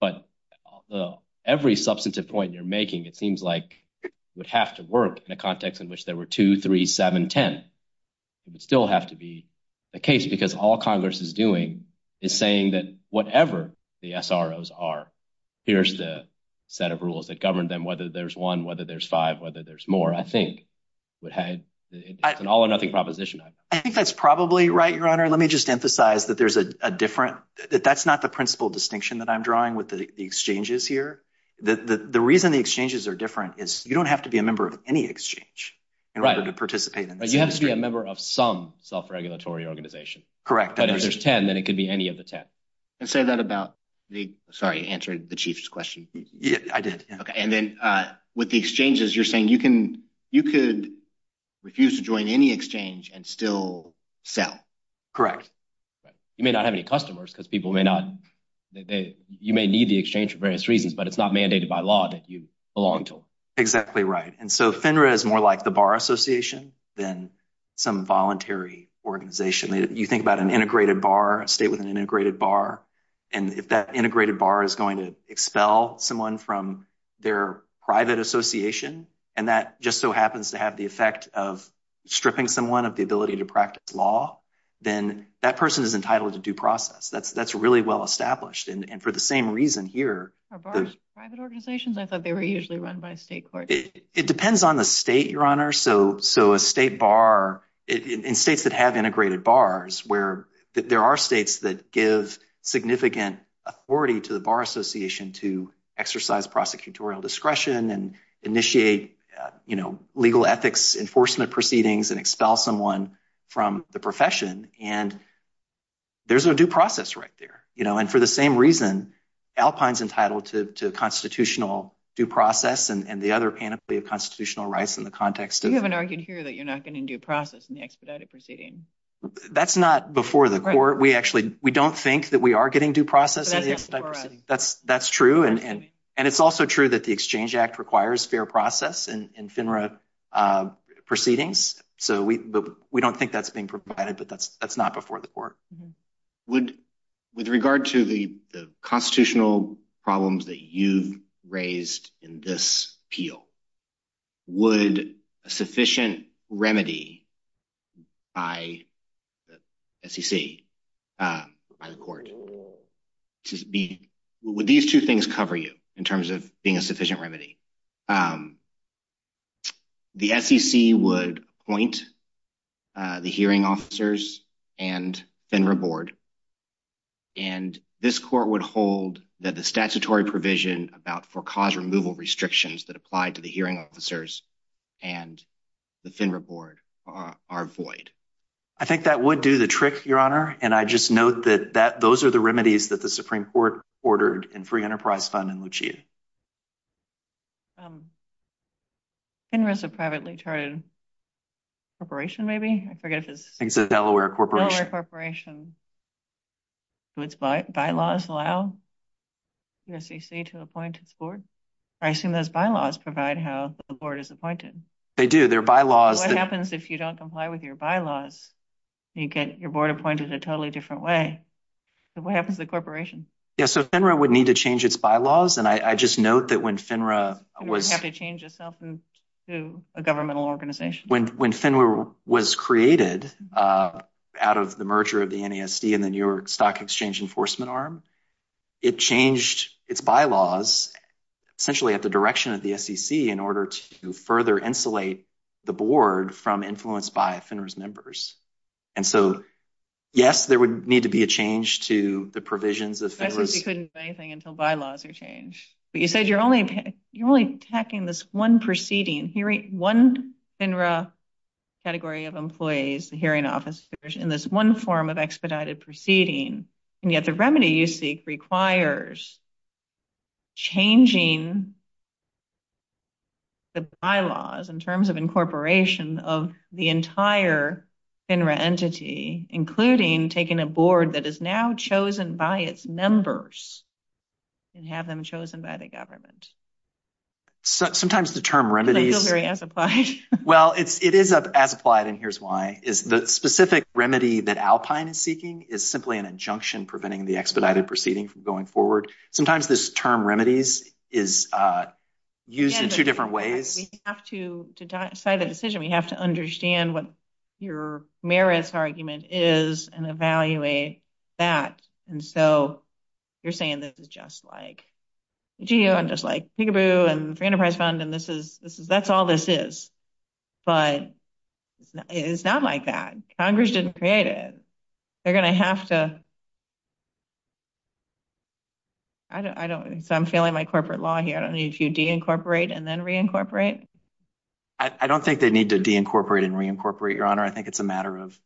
But every substantive point you're making, it seems like it would have to work in a context in which there were two, three, seven, 10. It would still have to be the case because all Congress is doing is saying that whatever the SROs are, here's the set of rules that govern them, whether there's one, whether there's five, whether there's more, I think would have an all or nothing proposition. I think that's probably right, Your Honor. Let me just emphasize that that's not the principal distinction that I'm drawing with the exchanges here. The reason the exchanges are different is you don't have to be a member of any exchange in order to participate. Right. You have to be a member of some self-regulatory organization. Correct. But if there's 10, then it could be any of the 10. Sorry, I answered the Chief's question. Yes, I did. Okay. And then with the exchanges, you're saying you could refuse to join any exchange and still sell. Correct. You may not have any customers because people may not – you may need the exchange for various reasons, but it's not mandated by law that you belong to one. Exactly right. And so FINRA is more like the bar association than some voluntary organization. You think about an integrated bar, a state with an integrated bar, and if that integrated bar is going to expel someone from their private association, and that just so happens to have the effect of stripping someone of the ability to practice law, then that person is entitled to due process. That's really well established. And for the same reason here – I thought they were usually run by a state court. It depends on the state, Your Honor. So a state bar – in states that have integrated bars where there are states that give significant authority to the bar association to exercise prosecutorial discretion and initiate legal ethics enforcement proceedings and expel someone from the profession, and there's a due process right there. And for the same reason, Alpine's entitled to constitutional due process and the other panoply of constitutional rights in the context of – You haven't argued here that you're not getting due process in the expedited proceeding. That's not before the court. We actually – we don't think that we are getting due process. That's true. And it's also true that the Exchange Act requires fair process in FINRA proceedings. So we don't think that's being provided, but that's not before the court. With regard to the constitutional problems that you've raised in this appeal, would a sufficient remedy by the SEC, by the court, would these two things cover you in terms of being a sufficient remedy? The SEC would appoint the hearing officers and FINRA board, and this court would hold that the statutory provision about for-cause removal restrictions that apply to the hearing officers and the FINRA board are void. I think that would do the trick, Your Honor, and I just note that those are the remedies that the Supreme Court ordered in free enterprise funding with you. FINRA's a privately-charted corporation, maybe? I forget. I think it's a Delaware corporation. Delaware corporation. So its bylaws allow USBC to appoint its board? I assume those bylaws provide how the board is appointed. They do. Their bylaws – You get your board appointed a totally different way. So what happens to the corporation? Yeah, so FINRA would need to change its bylaws, and I just note that when FINRA was – It would have to change itself to a governmental organization. When FINRA was created out of the merger of the NESD and the New York Stock Exchange Enforcement Arm, it changed its bylaws essentially at the direction of the SEC in order to further insulate the board from influence by FINRA's members. And so, yes, there would need to be a change to the provisions of FINRA's – category of employees, the hearing office, in this one form of expedited proceeding. And yet the remedy you seek requires changing the bylaws in terms of incorporation of the entire FINRA entity, including taking a board that is now chosen by its members and have them chosen by the government. Sometimes the term remedies – I feel very amplified. Well, it is as applied, and here's why. The specific remedy that Alpine is seeking is simply an injunction preventing the expedited proceeding from going forward. Sometimes this term remedies is used in two different ways. To decide the decision, we have to understand what your merits argument is and evaluate that. And so, you're saying this is just like – I'm just like peek-a-boo and the Freedom Prize Fund and this is – that's all this is. But it's not like that. Congress didn't create it. They're going to have to – I don't – so I'm failing my corporate law here. I don't need to de-incorporate and then re-incorporate? I don't think they need to de-incorporate and re-incorporate, Your Honor. I think it's a matter of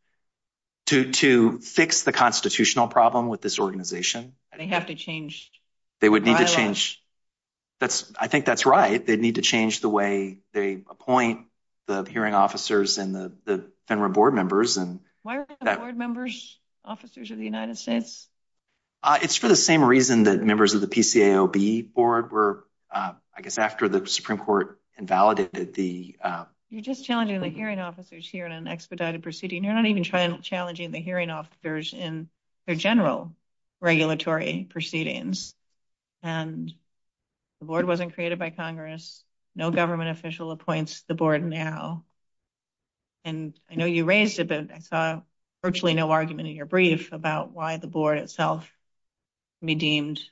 – to fix the constitutional problem with this organization. They have to change. They would need to change. I think that's right. They'd need to change the way they appoint the hearing officers and the federal board members. Why are the board members officers of the United States? It's for the same reason that members of the PCAOB board were, I guess, after the Supreme Court invalidated the – You're just challenging the hearing officers here in an expedited proceeding. You're not even challenging the hearing officers in their general regulatory proceedings. And the board wasn't created by Congress. No government official appoints the board now. And I know you raised it, but I saw virtually no argument in your brief about why the board itself be deemed –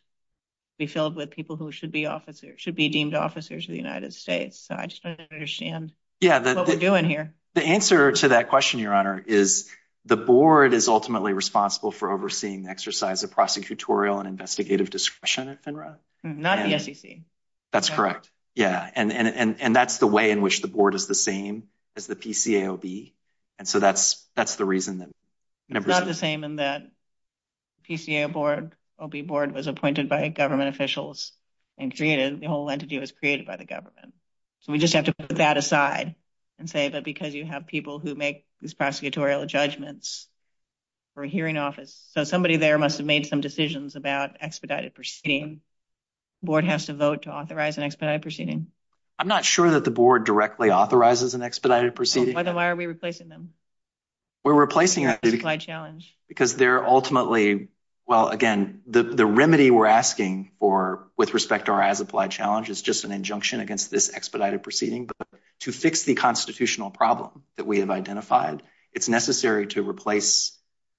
be filled with people who should be officers – should be deemed officers of the United States. So I just don't understand what we're doing here. The answer to that question, Your Honor, is the board is ultimately responsible for overseeing the exercise of prosecutorial and investigative discretion. Not the SEC. That's correct. Yeah. And that's the way in which the board is the same as the PCAOB. And so that's the reason that – It's not the same in that PCAOB board was appointed by government officials and created – the whole entity was created by the government. So we just have to put that aside and say that because you have people who make these prosecutorial judgments for a hearing office. So somebody there must have made some decisions about expedited proceeding. The board has to vote to authorize an expedited proceeding. I'm not sure that the board directly authorizes an expedited proceeding. Then why are we replacing them? We're replacing them because they're ultimately – well, again, the remedy we're asking for with respect to our as-applied challenge is just an injunction against this expedited proceeding. But to fix the constitutional problem that we have identified, it's necessary to replace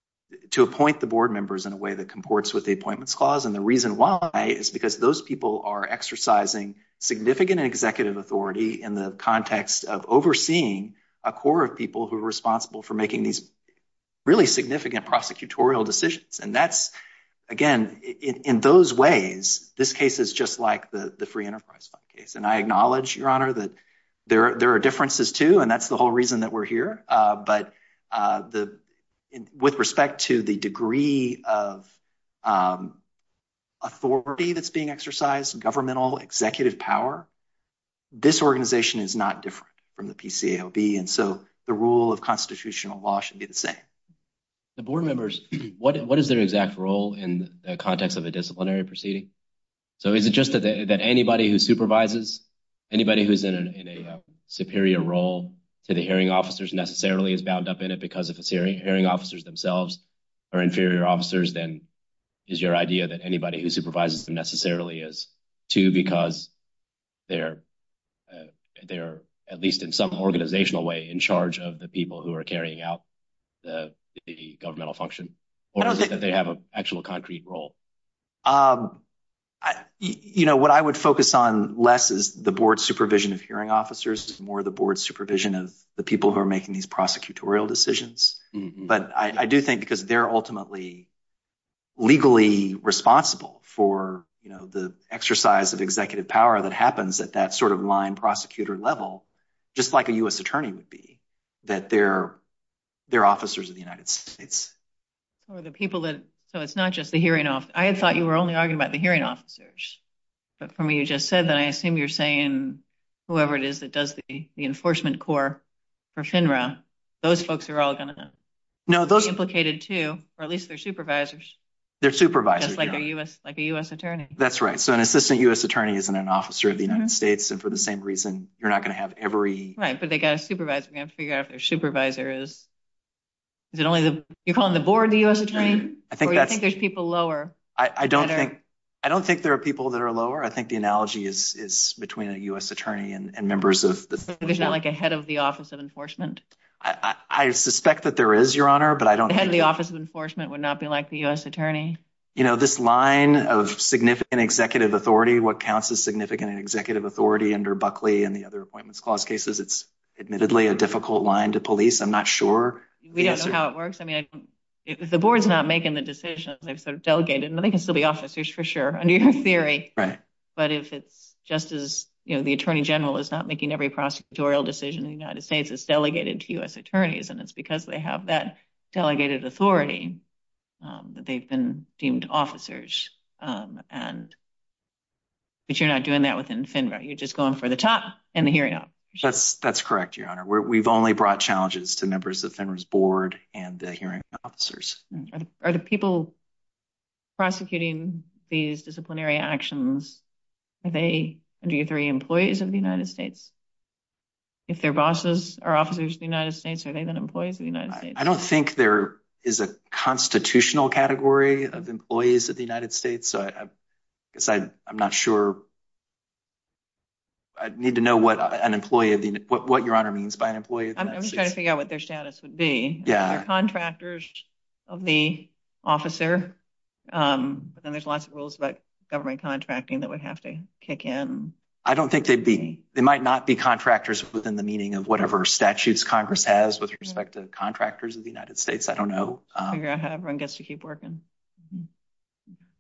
– to appoint the board members in a way that comports with the appointments clause. And the reason why is because those people are exercising significant executive authority in the context of overseeing a core of people who are responsible for making these really significant prosecutorial decisions. And that's – again, in those ways, this case is just like the free enterprise case. And I acknowledge, Your Honor, that there are differences too, and that's the whole reason that we're here. But with respect to the degree of authority that's being exercised, governmental executive power, this organization is not different from the PCAOB. And so the rule of constitutional law should be the same. The board members – what is their exact role in the context of a disciplinary proceeding? So is it just that anybody who supervises – anybody who's in a superior role to the hearing officers necessarily is bound up in it because of the hearing officers themselves are inferior officers? Then is your idea that anybody who supervises them necessarily is too because they're at least in some organizational way in charge of the people who are carrying out the governmental function? Or is it that they have an actual concrete role? You know, what I would focus on less is the board supervision of hearing officers, more the board supervision of the people who are making these prosecutorial decisions. But I do think because they're ultimately legally responsible for the exercise of executive power that happens at that sort of line prosecutor level, just like a U.S. attorney would be, that they're officers of the United States. So it's not just the hearing officers. I thought you were only arguing about the hearing officers. But from what you just said, I assume you're saying whoever it is that does the enforcement core for FINRA, those folks are all going to be implicated too, or at least their supervisors. Their supervisors. Just like a U.S. attorney. That's right. So an assistant U.S. attorney isn't an officer of the United States, and for the same reason you're not going to have every... Right, but they've got a supervisor. They've got to figure out who their supervisor is. You're calling the board the U.S. attorney? Or do you think there's people lower? I don't think there are people that are lower. I think the analogy is between a U.S. attorney and members of the... So it's not like a head of the Office of Enforcement? I suspect that there is, Your Honor, but I don't... The head of the Office of Enforcement would not be like the U.S. attorney? You know, this line of significant executive authority, what counts as significant executive authority under Buckley and the other Appointments Clause cases, it's admittedly a difficult line to police. I'm not sure. We don't know how it works. I mean, if the board's not making the decision, if they're delegated, then they can still be officers for sure, under your theory. Right. But if it's just as, you know, the Attorney General is not making every prosecutorial decision in the United States, it's delegated to U.S. attorneys, and it's because they have that delegated authority that they've been deemed officers. But you're not doing that within FINRA. You're just going for the top and the hearing officers. That's correct, Your Honor. We've only brought challenges to members of FINRA's board and the hearing officers. Are the people prosecuting these disciplinary actions, are they, under your theory, employees of the United States? If their bosses are officers of the United States, are they then employees of the United States? I don't think there is a constitutional category of employees of the United States, so I guess I'm not sure. I'd need to know what an employee of the... what Your Honor means by an employee of the United States. I'm just trying to figure out what their status would be. Are they contractors of the officer? And there's lots of rules about government contracting that would have to kick in. I don't think they'd be. They might not be contractors within the meaning of whatever statutes Congress has with respect to contractors of the United States. I don't know. Figure out how everyone gets to keep working.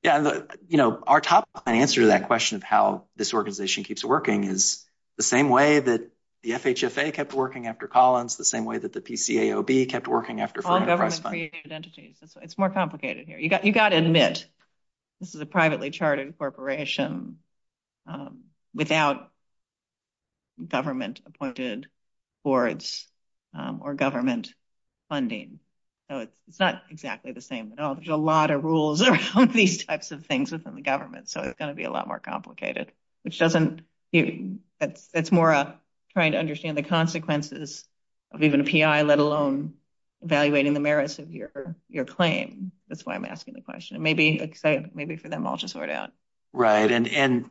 Yeah, you know, our top line answer to that question of how this organization keeps working is the same way that the FHSA kept working after Collins, the same way that the PCAOB kept working after... It's more complicated here. You've got to admit this is a privately charted corporation without government-appointed boards or government funding, so it's not exactly the same. There's a lot of rules around these types of things within the government, so it's going to be a lot more complicated, which doesn't... It's more of trying to understand the consequences of even a PI, let alone evaluating the merits of your claim. That's why I'm asking the question. Maybe for them, I'll just sort it out. Right, and,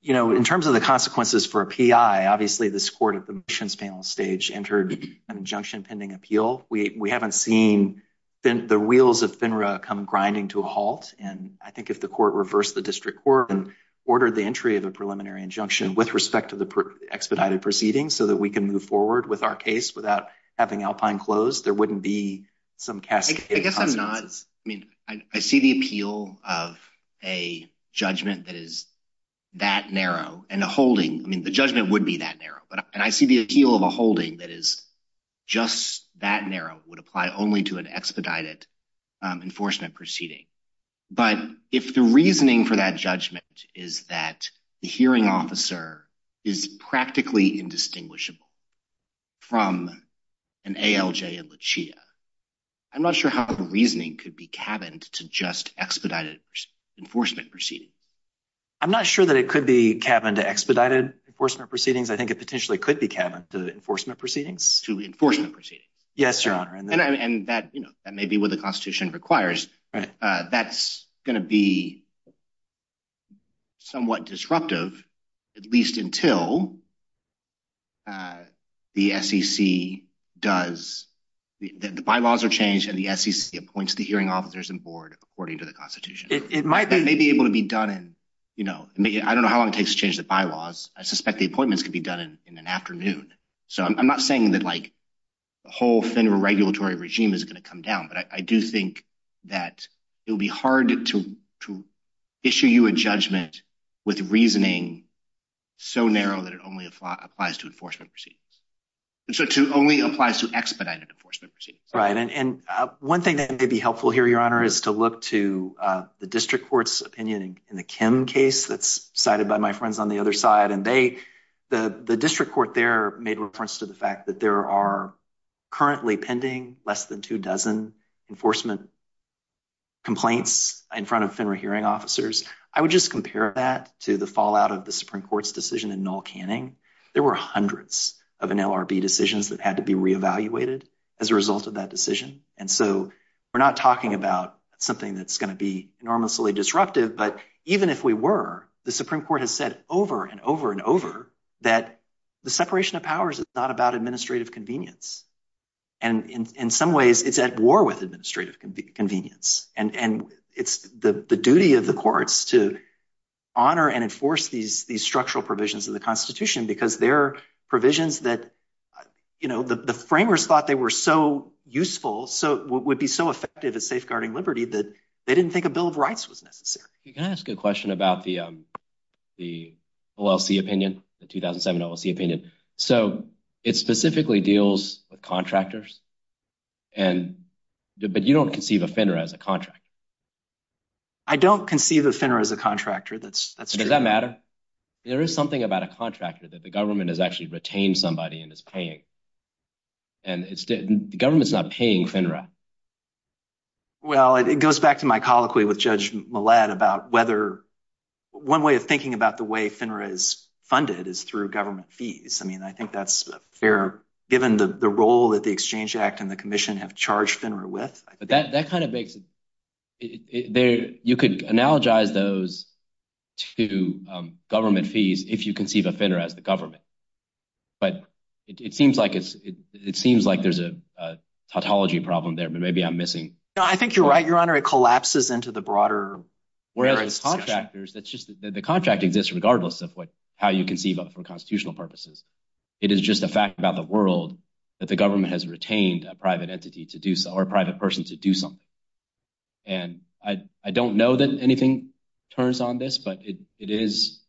you know, in terms of the consequences for a PI, obviously, this court at the missions panel stage entered an injunction-pending appeal. We haven't seen the wheels of FINRA come grinding to a halt, and I think if the court reversed the district court and ordered the entry of the preliminary injunction with respect to the expedited proceedings so that we can move forward with our case without having Alpine closed, there wouldn't be some cascading... I guess I'm not... I mean, I see the appeal of a judgment that is that narrow, and a holding... I mean, the judgment would be that narrow, but I see the appeal of a holding that is just that narrow would apply only to an expedited enforcement proceeding. But if the reasoning for that judgment is that the hearing officer is practically indistinguishable from an ALJ and LICHEA, I'm not sure how the reasoning could be cabined to just expedited enforcement proceedings. I'm not sure that it could be cabined to expedited enforcement proceedings. I think it potentially could be cabined to enforcement proceedings. To enforcement proceedings. Yes, Your Honor. And that may be what the Constitution requires. That's going to be somewhat disruptive, at least until the SEC does... the bylaws are changed and the SEC appoints the hearing officers and board according to the Constitution. It might be... I don't know how long it takes to change the bylaws. I suspect the appointments could be done in an afternoon. So I'm not saying that the whole federal regulatory regime is going to come down, but I do think that it would be hard to issue you a judgment with reasoning so narrow that it only applies to enforcement proceedings. So it only applies to expedited enforcement proceedings. Right. And one thing that may be helpful here, Your Honor, is to look to the district court's opinion in the Kim case that's cited by my friends on the other side. And they... the district court there made reference to the fact that there are currently pending less than two dozen enforcement complaints in front of federal hearing officers. I would just compare that to the fallout of the Supreme Court's decision in Noel Canning. There were hundreds of NLRB decisions that had to be reevaluated as a result of that decision. And so we're not talking about something that's going to be enormously disruptive, but even if we were, the Supreme Court has said over and over and over that the separation of powers is not about administrative convenience. And in some ways, it's at war with administrative convenience. And it's the duty of the courts to honor and enforce these structural provisions of the Constitution because they're provisions that, you know, the framers thought they were so useful, would be so effective at safeguarding liberty that they didn't think a bill of rights was necessary. Can I ask a question about the OLC opinion, the 2007 OLC opinion? So it specifically deals with contractors, but you don't conceive of FINRA as a contractor. I don't conceive of FINRA as a contractor. Does that matter? There is something about a contractor that the government has actually retained somebody and is paying. And the government's not paying FINRA. Well, it goes back to my colloquy with Judge Millett about whether – one way of thinking about the way FINRA is funded is through government fees. I mean, I think that's fair given the role that the Exchange Act and the Commission have charged FINRA with. But that kind of makes – you could analogize those to government fees if you conceive of FINRA as the government. But it seems like there's a tautology problem there, but maybe I'm missing – No, I think you're right, Your Honor. It collapses into the broader – The contract exists regardless of how you conceive of it for constitutional purposes. It is just a fact about the world that the government has retained a private entity to do – or a private person to do something. And I don't know that anything turns on this, but it is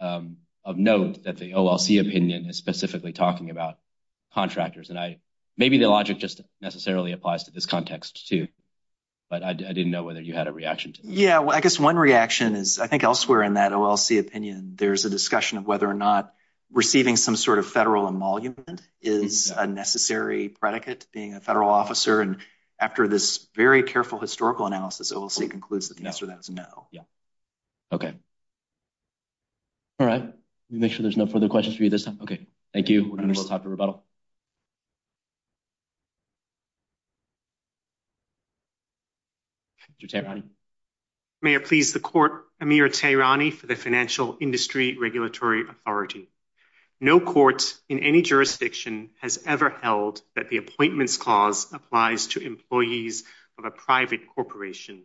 of note that the OLC opinion is specifically talking about contractors. And maybe the logic just necessarily applies to this context, too. But I didn't know whether you had a reaction to that. Yeah, I guess one reaction is – I think elsewhere in that OLC opinion, there's a discussion of whether or not receiving some sort of federal emolument is a necessary predicate to being a federal officer. And after this very careful historical analysis, OLC concludes that yes or that's no. Yeah. Okay. All right. Let me make sure there's no further questions for you this time. Okay. Thank you. We're going to go talk to rebuttal. Thank you, Tehrani. May it please the Court, Amir Tehrani for the Financial Industry Regulatory Authority. No court in any jurisdiction has ever held that the Appointments Clause applies to employees of a private corporation.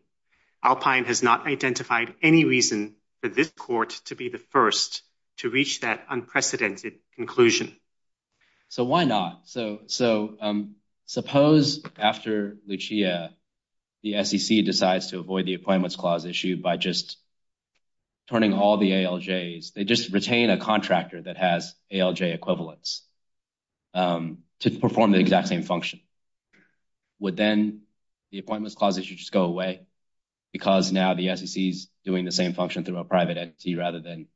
Alpine has not identified any reason for this court to be the first to reach that unprecedented conclusion. So why not? So suppose after Lucia, the SEC decides to avoid the Appointments Clause issue by just turning all the ALJs – they just retain a contractor that has ALJ equivalents to perform the exact same function. Would then the Appointments Clause issue just go away because now the SEC is doing the same function through a private entity rather than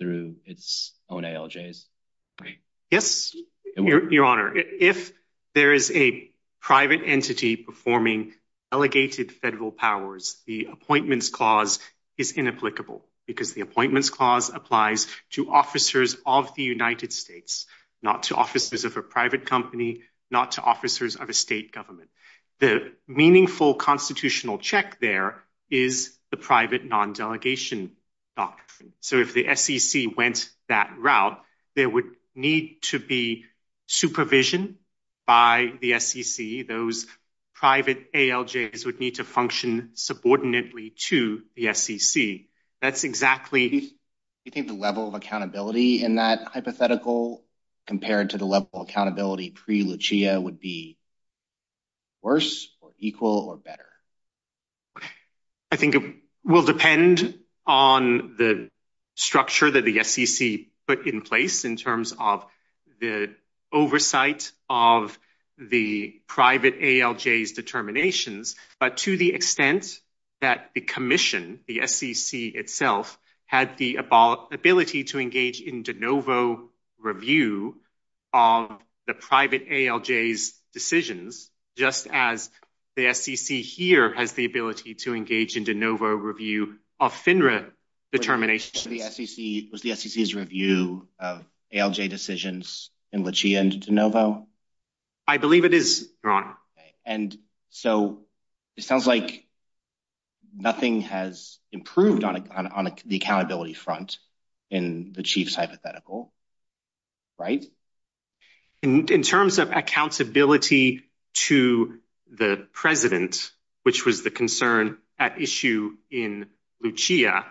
through its own ALJs? Yes, Your Honor. If there is a private entity performing delegated federal powers, the Appointments Clause is inapplicable because the Appointments Clause applies to officers of the United States, not to officers of a private company, not to officers of a state government. The meaningful constitutional check there is the private non-delegation doctrine. So if the SEC went that route, there would need to be supervision by the SEC. Those private ALJs would need to function subordinately to the SEC. That's exactly – Do you think the level of accountability in that hypothetical compared to the level of accountability pre-Lucia would be worse or equal or better? I think it will depend on the structure that the SEC put in place in terms of the oversight of the private ALJs determinations. But to the extent that the commission, the SEC itself, has the ability to engage in de novo review of the private ALJs decisions, just as the SEC here has the ability to engage in de novo review of FINRA determinations – Was the SEC's review of ALJ decisions in Lucia and de novo? And so it sounds like nothing has improved on the accountability front in the Chief's hypothetical, right? In terms of accountability to the president, which was the concern at issue in Lucia,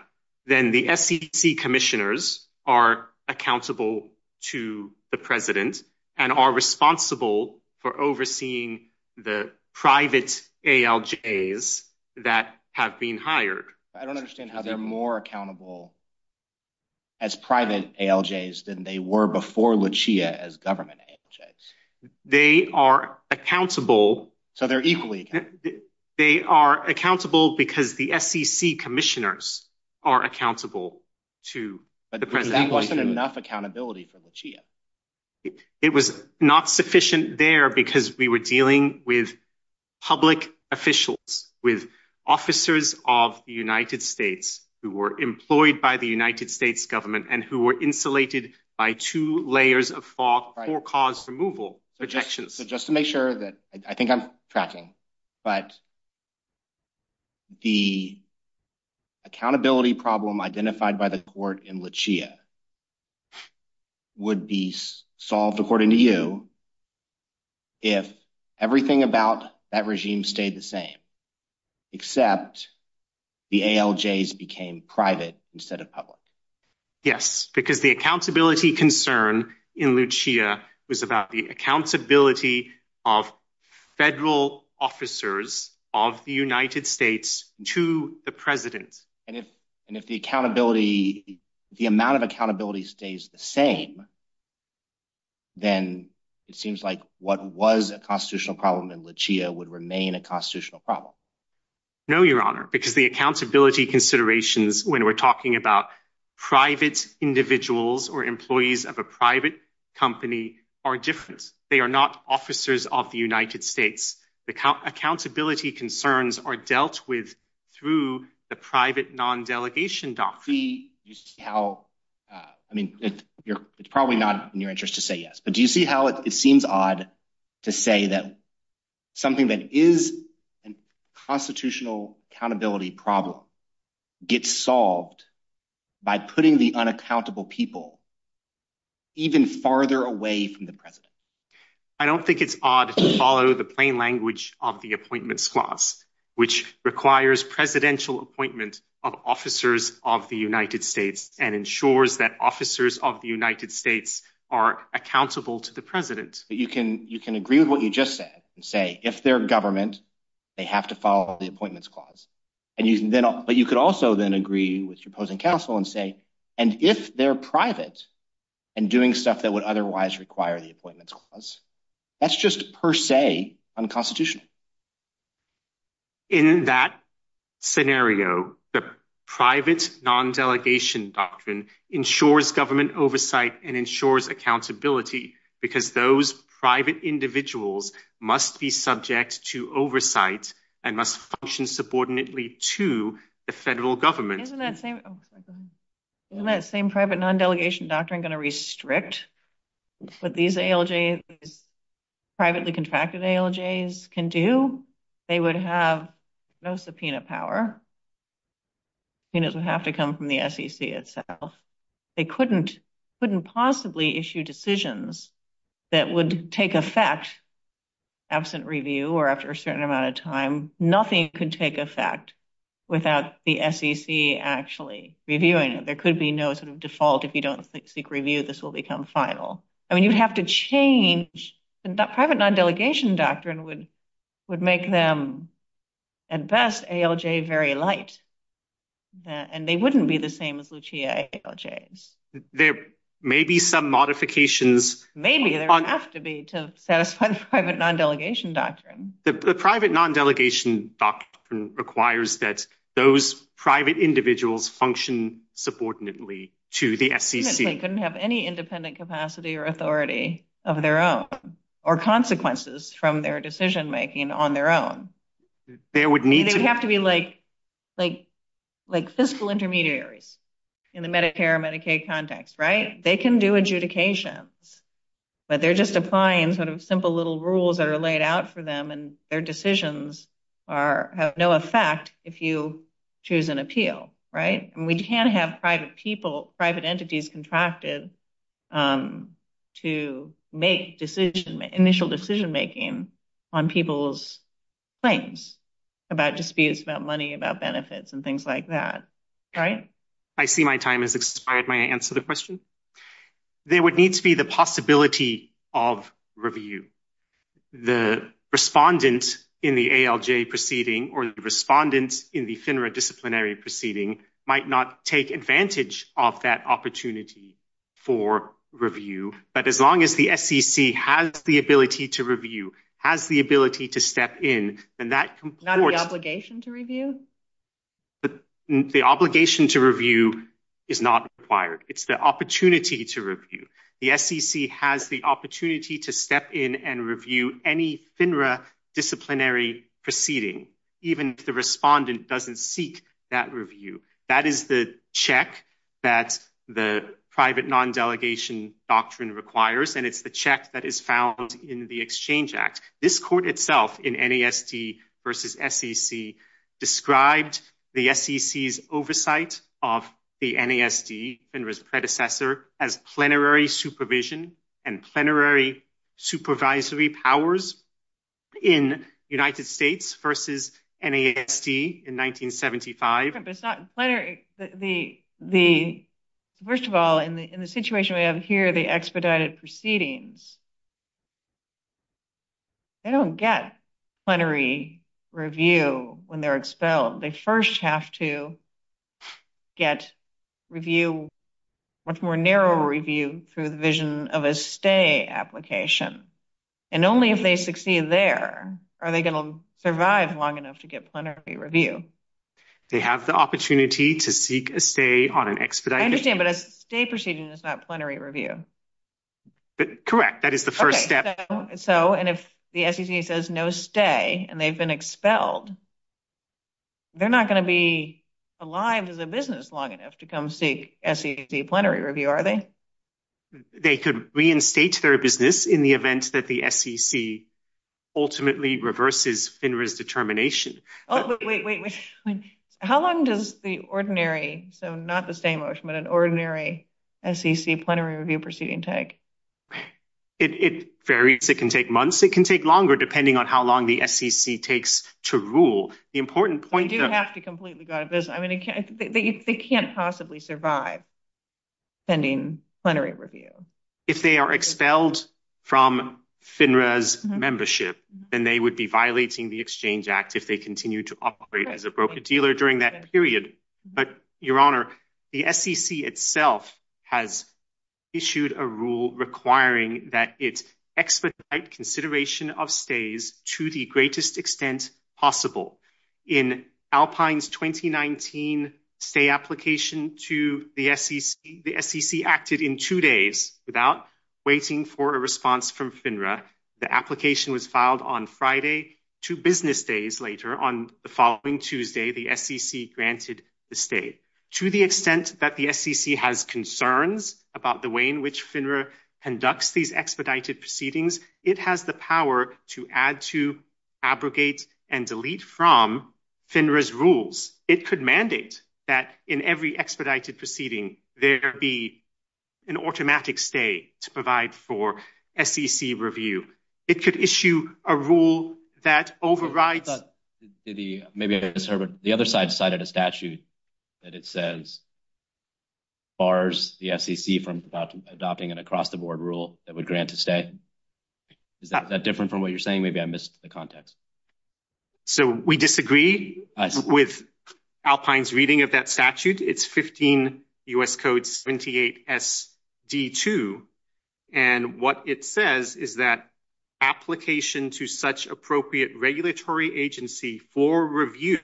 then the SEC commissioners are accountable to the president and are responsible for overseeing the private ALJs that have been hired. I don't understand how they're more accountable as private ALJs than they were before Lucia as government ALJs. They are accountable – So they're equally accountable. They are accountable because the SEC commissioners are accountable to the president. But that wasn't enough accountability for Lucia. It was not sufficient there because we were dealing with public officials, with officers of the United States who were employed by the United States government and who were insulated by two layers of FOC for cause removal objections. So just to make sure that – I think I'm tracking – but the accountability problem identified by the court in Lucia would be solved, according to you, if everything about that regime stayed the same except the ALJs became private instead of public. Yes, because the accountability concern in Lucia was about the accountability of federal officers of the United States to the president. And if the amount of accountability stays the same, then it seems like what was a constitutional problem in Lucia would remain a constitutional problem. No, Your Honor, because the accountability considerations when we're talking about private individuals or employees of a private company are different. They are not officers of the United States. The accountability concerns are dealt with through the private non-delegation doctrine. Do you see how – I mean, it's probably not in your interest to say yes, but do you see how it seems odd to say that something that is a constitutional accountability problem gets solved by putting the unaccountable people even farther away from the president? I don't think it's odd to follow the plain language of the appointments clause, which requires presidential appointment of officers of the United States and ensures that officers of the United States are accountable to the president. You can agree with what you just said and say, if they're government, they have to follow the appointments clause. But you could also then agree with your opposing counsel and say, and if they're private and doing stuff that would otherwise require the appointments clause, that's just per se unconstitutional. In that scenario, the private non-delegation doctrine ensures government oversight and ensures accountability because those private individuals must be subject to oversight and must function subordinately to the federal government. Isn't that same private non-delegation doctrine going to restrict what these ALJs, privately contracted ALJs can do? They would have no subpoena power. It doesn't have to come from the SEC itself. They couldn't possibly issue decisions that would take effect absent review or after a certain amount of time. Nothing could take effect without the SEC actually reviewing it. There could be no sort of default. If you don't seek review, this will become final. I mean, you have to change. And that private non-delegation doctrine would make them, at best, ALJ very light. And they wouldn't be the same as Lucia ALJs. There may be some modifications. Maybe there has to be to satisfy the private non-delegation doctrine. The private non-delegation doctrine requires that those private individuals function subordinately to the FCC. They couldn't have any independent capacity or authority of their own or consequences from their decision-making on their own. They would have to be like fiscal intermediaries in the Medicare and Medicaid context, right? They can do adjudications, but they're just applying sort of simple little rules that are laid out for them, and their decisions have no effect if you choose an appeal, right? And we can't have private people, private entities contracted to make initial decision-making on people's claims about disputes, about money, about benefits, and things like that, right? I see my time has expired. May I answer the question? There would need to be the possibility of review. The respondent in the ALJ proceeding or the respondent in the FINRA disciplinary proceeding might not take advantage of that opportunity for review. But as long as the FCC has the ability to review, has the ability to step in, then that— Not the obligation to review? The obligation to review is not required. It's the opportunity to review. The FCC has the opportunity to step in and review any FINRA disciplinary proceeding, even if the respondent doesn't seek that review. That is the check that the private non-delegation doctrine requires, and it's the check that is found in the Exchange Act. This court itself in NASD versus SEC described the SEC's oversight of the NASD, FINRA's predecessor, as plenary supervision and plenary supervisory powers in the United States versus NASD in 1975. First of all, in the situation we have here, the expedited proceedings, they don't get plenary review when they're expelled. They first have to get review, much more narrow review, through the vision of a stay application. And only if they succeed there are they going to survive long enough to get plenary review. They have the opportunity to seek a stay on an expedited— I understand, but a stay proceeding is not plenary review. Correct. That is the first step. So, and if the SEC says no stay and they've been expelled, they're not going to be alive as a business long enough to come seek SEC plenary review, are they? They could reinstate their business in the event that the SEC ultimately reverses FINRA's determination. Oh, wait, wait, wait. How long does the ordinary, so not the stay motion, but an ordinary SEC plenary review proceeding take? It varies. It can take months. It can take longer, depending on how long the SEC takes to rule. The important point— They do have to completely go out of business. I mean, they can't possibly survive pending plenary review. If they are expelled from FINRA's membership, then they would be violating the Exchange Act if they continue to operate as a broker-dealer during that period. But, Your Honor, the SEC itself has issued a rule requiring that it expedite consideration of stays to the greatest extent possible. In Alpine's 2019 stay application to the SEC, the SEC acted in two days without waiting for a response from FINRA. The application was filed on Friday. Two business days later, on the following Tuesday, the SEC granted the stay. To the extent that the SEC has concerns about the way in which FINRA conducts these expedited proceedings, it has the power to add to, abrogate, and delete from FINRA's rules. It could mandate that in every expedited proceeding there be an automatic stay to provide for SEC review. It could issue a rule that overrides— The other side cited a statute that it says bars the SEC from adopting an across-the-board rule that would grant a stay. Is that different from what you're saying? Maybe I missed the context. So we disagree with Alpine's reading of that statute. It's 15 U.S. Code 78 SD2. And what it says is that application to such appropriate regulatory agency for review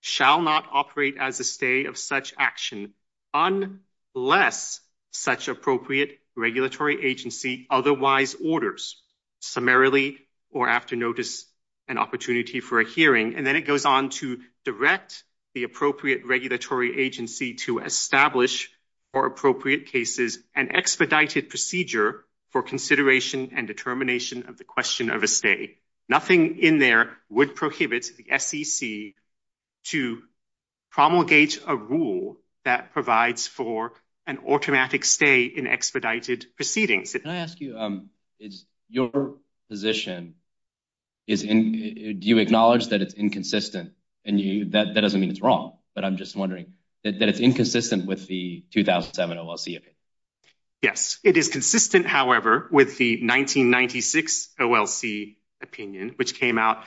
shall not operate as a stay of such action unless such appropriate regulatory agency otherwise orders, summarily or after notice, an opportunity for a hearing. And then it goes on to direct the appropriate regulatory agency to establish, for appropriate cases, an expedited procedure for consideration and determination of the question of a stay. Nothing in there would prohibit the SEC to promulgate a rule that provides for an automatic stay in expedited proceedings. Can I ask you, your position, do you acknowledge that it's inconsistent? And that doesn't mean it's wrong, but I'm just wondering, that it's inconsistent with the 2007 OLC opinion? Yes, it is consistent, however, with the 1996 OLC opinion, which came out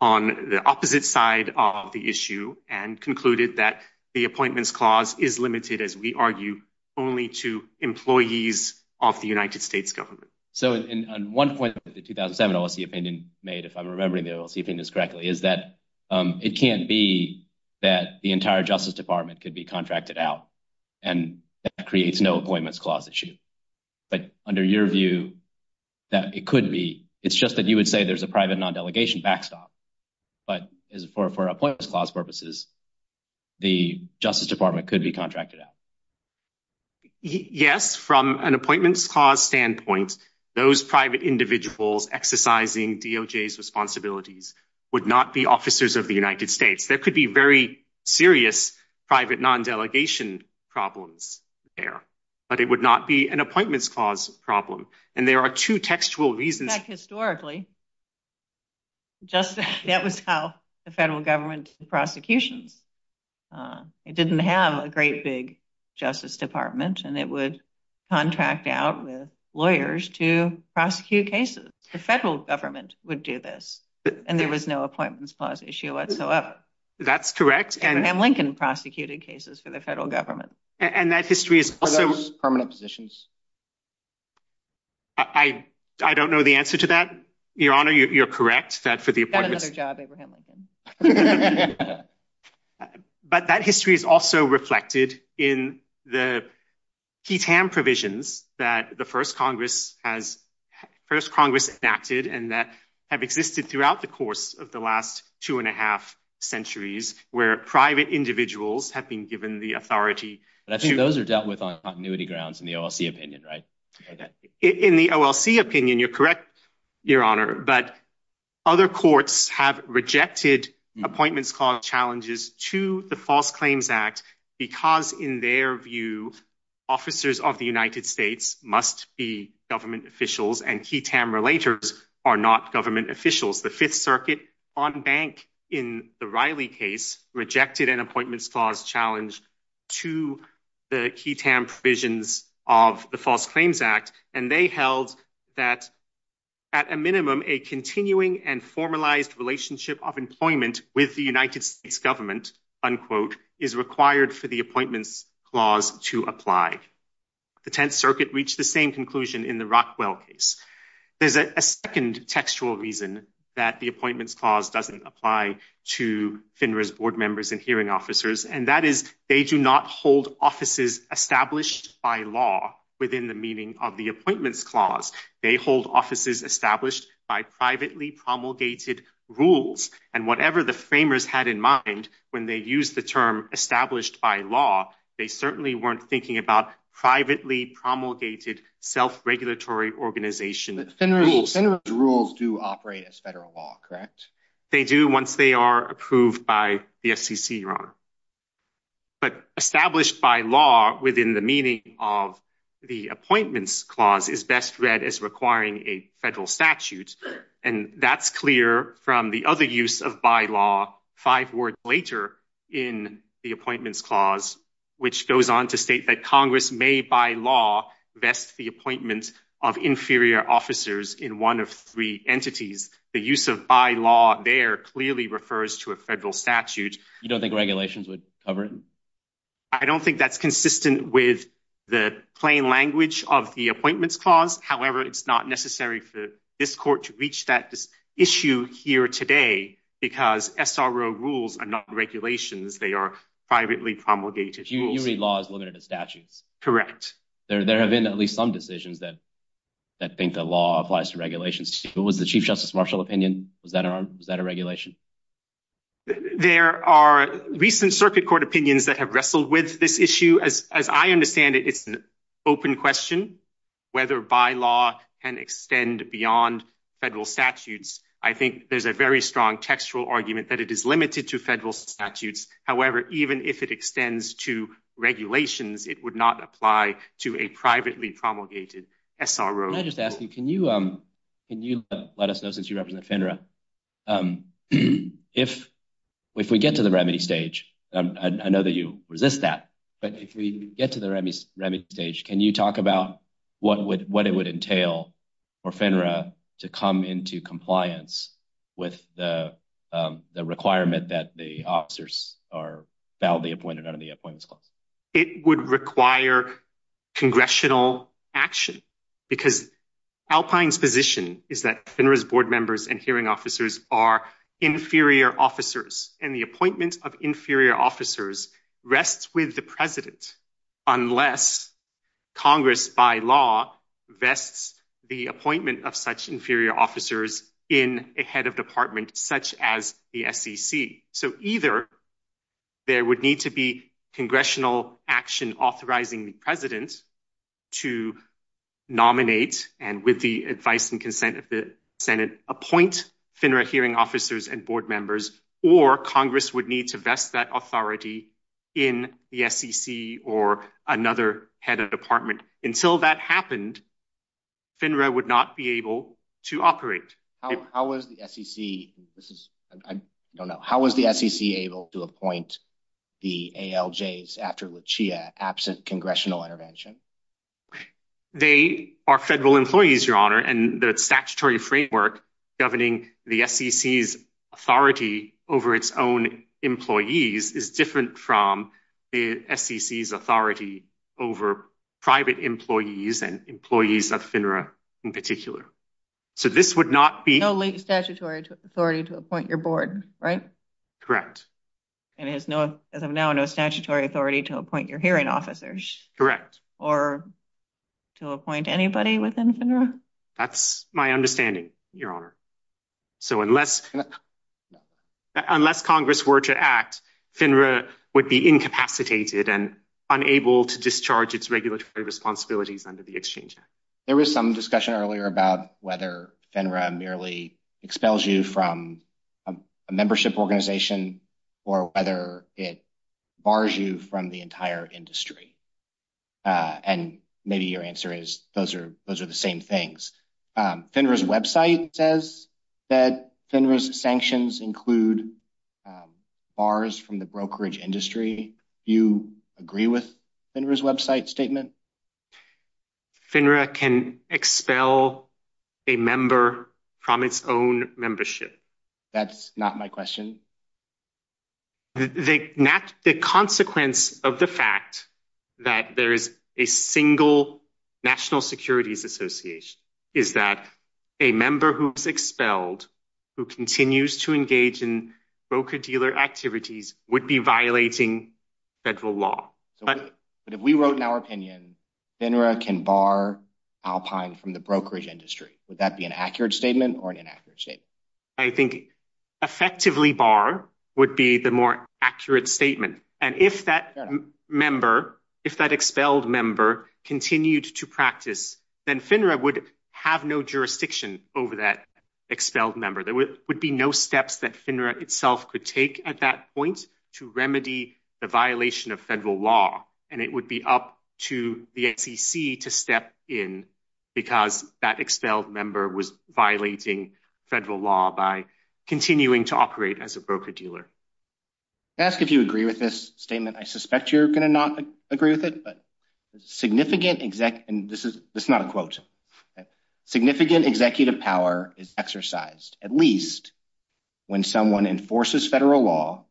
on the opposite side of the issue and concluded that the appointments clause is limited, as we argue, only to employees of the United States government. So one point that the 2007 OLC opinion made, if I'm remembering the OLC opinion correctly, is that it can't be that the entire Justice Department could be contracted out and that creates no appointments clause issue. But under your view, that it could be. It's just that you would say there's a private non-delegation backstop. But for appointments clause purposes, the Justice Department could be contracted out. Yes, from an appointments clause standpoint, those private individuals exercising DOJ's responsibilities would not be officers of the United States. There could be very serious private non-delegation problems there, but it would not be an appointments clause problem. And there are two textual reasons. In fact, historically, that was how the federal government prosecuted. It didn't have a great big Justice Department, and it would contract out lawyers to prosecute cases. The federal government would do this, and there was no appointments clause issue whatsoever. That's correct. And Lincoln prosecuted cases for the federal government. Are those permanent positions? I don't know the answer to that, Your Honor. You're correct that for the appointments… You've got another job, Abraham Lincoln. But that history is also reflected in the PTAM provisions that the first Congress enacted and that have existed throughout the course of the last two and a half centuries where private individuals have been given the authority to… In the OLC opinion, you're correct, Your Honor, but other courts have rejected appointments clause challenges to the False Claims Act because in their view, officers of the United States must be government officials and PTAM relators are not government officials. The Fifth Circuit on bank in the Riley case rejected an appointments clause challenge to the PTAM provisions of the False Claims Act, and they held that at a minimum, a continuing and formalized relationship of employment with the United States government, unquote, is required for the appointments clause to apply. The Tenth Circuit reached the same conclusion in the Rockwell case. There's a second textual reason that the appointments clause doesn't apply to FINRA's board members and hearing officers, and that is they do not hold offices established by law within the meaning of the appointments clause. They hold offices established by privately promulgated rules, and whatever the framers had in mind when they used the term established by law, they certainly weren't thinking about privately promulgated self-regulatory organization rules. FINRA's rules do operate as federal law, correct? They do once they are approved by the FCC, Your Honor. But established by law within the meaning of the appointments clause is best read as requiring a federal statute, and that's clear from the other use of bylaw five words later in the appointments clause, which goes on to state that Congress may by law vest the appointment of inferior officers in one of three entities. The use of bylaw there clearly refers to a federal statute. You don't think regulations would cover it? I don't think that's consistent with the plain language of the appointments clause. However, it's not necessary for this court to reach that issue here today because SRO rules are not regulations. They are privately promulgated rules. You mean law is limited to statutes? Correct. There have been at least some decisions that think a law applies to regulations. What was the Chief Justice Marshall opinion? Is that a regulation? There are recent circuit court opinions that have wrestled with this issue. As I understand it, it's an open question whether bylaw can extend beyond federal statutes. I think there's a very strong textual argument that it is limited to federal statutes. However, even if it extends to regulations, it would not apply to a privately promulgated SRO. Can you let us know, since you represent FINRA, if we get to the remedy stage, I know that you resist that, but if we get to the remedy stage, can you talk about what it would entail for FINRA to come into compliance with the requirement that the officers are validly appointed under the appointments clause? It would require congressional action because Alpine's position is that FINRA's board members and hearing officers are inferior officers. The appointment of inferior officers rests with the president unless Congress, by law, vests the appointment of such inferior officers in a head of department such as the SEC. Either there would need to be congressional action authorizing the president to nominate and, with the advice and consent of the Senate, appoint FINRA hearing officers and board members, or Congress would need to vest that authority in the SEC or another head of department. Until that happened, FINRA would not be able to operate. How was the SEC able to appoint the ALJs after Lucia absent congressional intervention? They are federal employees, Your Honor, and the statutory framework governing the SEC's authority over its own employees is different from the SEC's authority over private employees and employees of FINRA in particular. No statutory authority to appoint your board, right? Correct. And as of now, no statutory authority to appoint your hearing officers? Correct. Or to appoint anybody within FINRA? That's my understanding, Your Honor. Unless Congress were to act, FINRA would be incapacitated and unable to discharge its regulatory responsibilities under the Exchange Act. There was some discussion earlier about whether FINRA merely expels you from a membership organization or whether it bars you from the entire industry. And maybe your answer is those are the same things. FINRA's website says that FINRA's sanctions include bars from the brokerage industry. Do you agree with FINRA's website statement? FINRA can expel a member from its own membership. That's not my question. The consequence of the fact that there is a single National Securities Association is that a member who is expelled who continues to engage in broker-dealer activities would be violating federal law. But if we wrote in our opinion FINRA can bar Alpine from the brokerage industry, would that be an accurate statement or an inaccurate statement? I think effectively bar would be the more accurate statement. And if that expelled member continued to practice, then FINRA would have no jurisdiction over that expelled member. There would be no steps that FINRA itself could take at that point to remedy the violation of federal law. And it would be up to the SEC to step in because that expelled member was violating federal law by continuing to operate as a broker-dealer. Can I ask if you agree with this statement? I suspect you're going to not agree with it. Significant executive power is exercised at least when someone enforces federal law,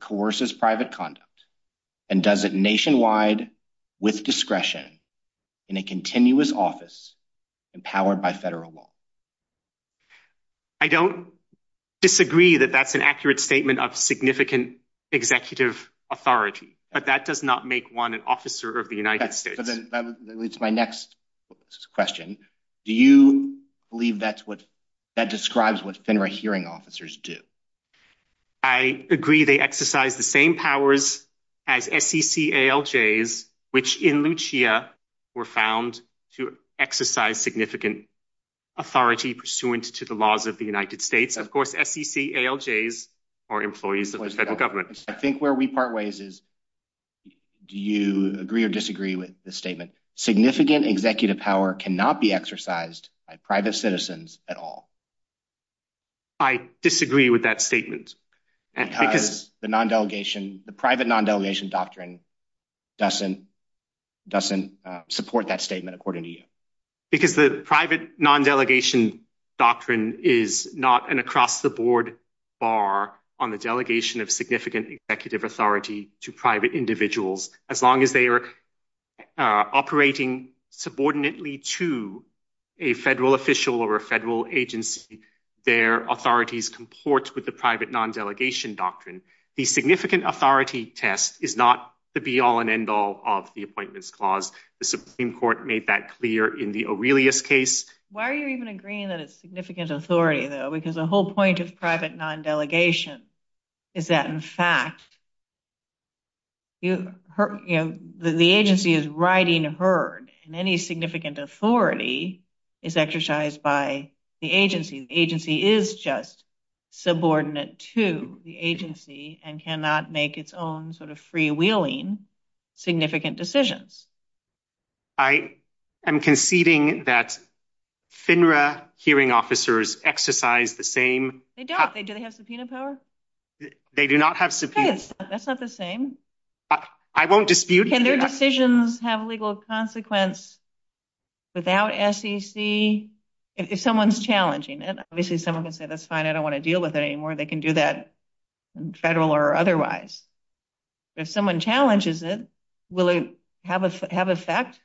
coerces private conduct, and does it nationwide with discretion in a continuous office empowered by federal law. I don't disagree that that's an accurate statement of significant executive authority, but that does not make one an officer of the United States. That leads to my next question. Do you believe that describes what FINRA hearing officers do? I agree they exercise the same powers as SEC ALJs, which in Lucia were found to exercise significant authority pursuant to the laws of the United States. Of course, SEC ALJs are employees of the federal government. I think where we part ways is do you agree or disagree with the statement? Significant executive power cannot be exercised by private citizens at all. I disagree with that statement. Because the private non-delegation doctrine doesn't support that statement according to you? Because the private non-delegation doctrine is not an across-the-board bar on the delegation of significant executive authority to private individuals. As long as they are operating subordinately to a federal official or a federal agency, their authorities comport with the private non-delegation doctrine. The significant authority test is not the be-all and end-all of the Appointments Clause. The Supreme Court made that clear in the Aurelius case. Why are you even agreeing that it's significant authority, though? Because the whole point of private non-delegation is that, in fact, the agency is riding herd. Any significant authority is exercised by the agency. The agency is just subordinate to the agency and cannot make its own sort of freewheeling significant decisions. I am conceding that FINRA hearing officers exercise the same... They don't. Do they have subpoena power? They do not have subpoena power. That's not the same. I won't dispute that. Can their decisions have legal consequence without SEC? If someone's challenging it, obviously someone can say, that's fine, I don't want to deal with it anymore. They can do that federal or otherwise. If someone challenges it, will it have effect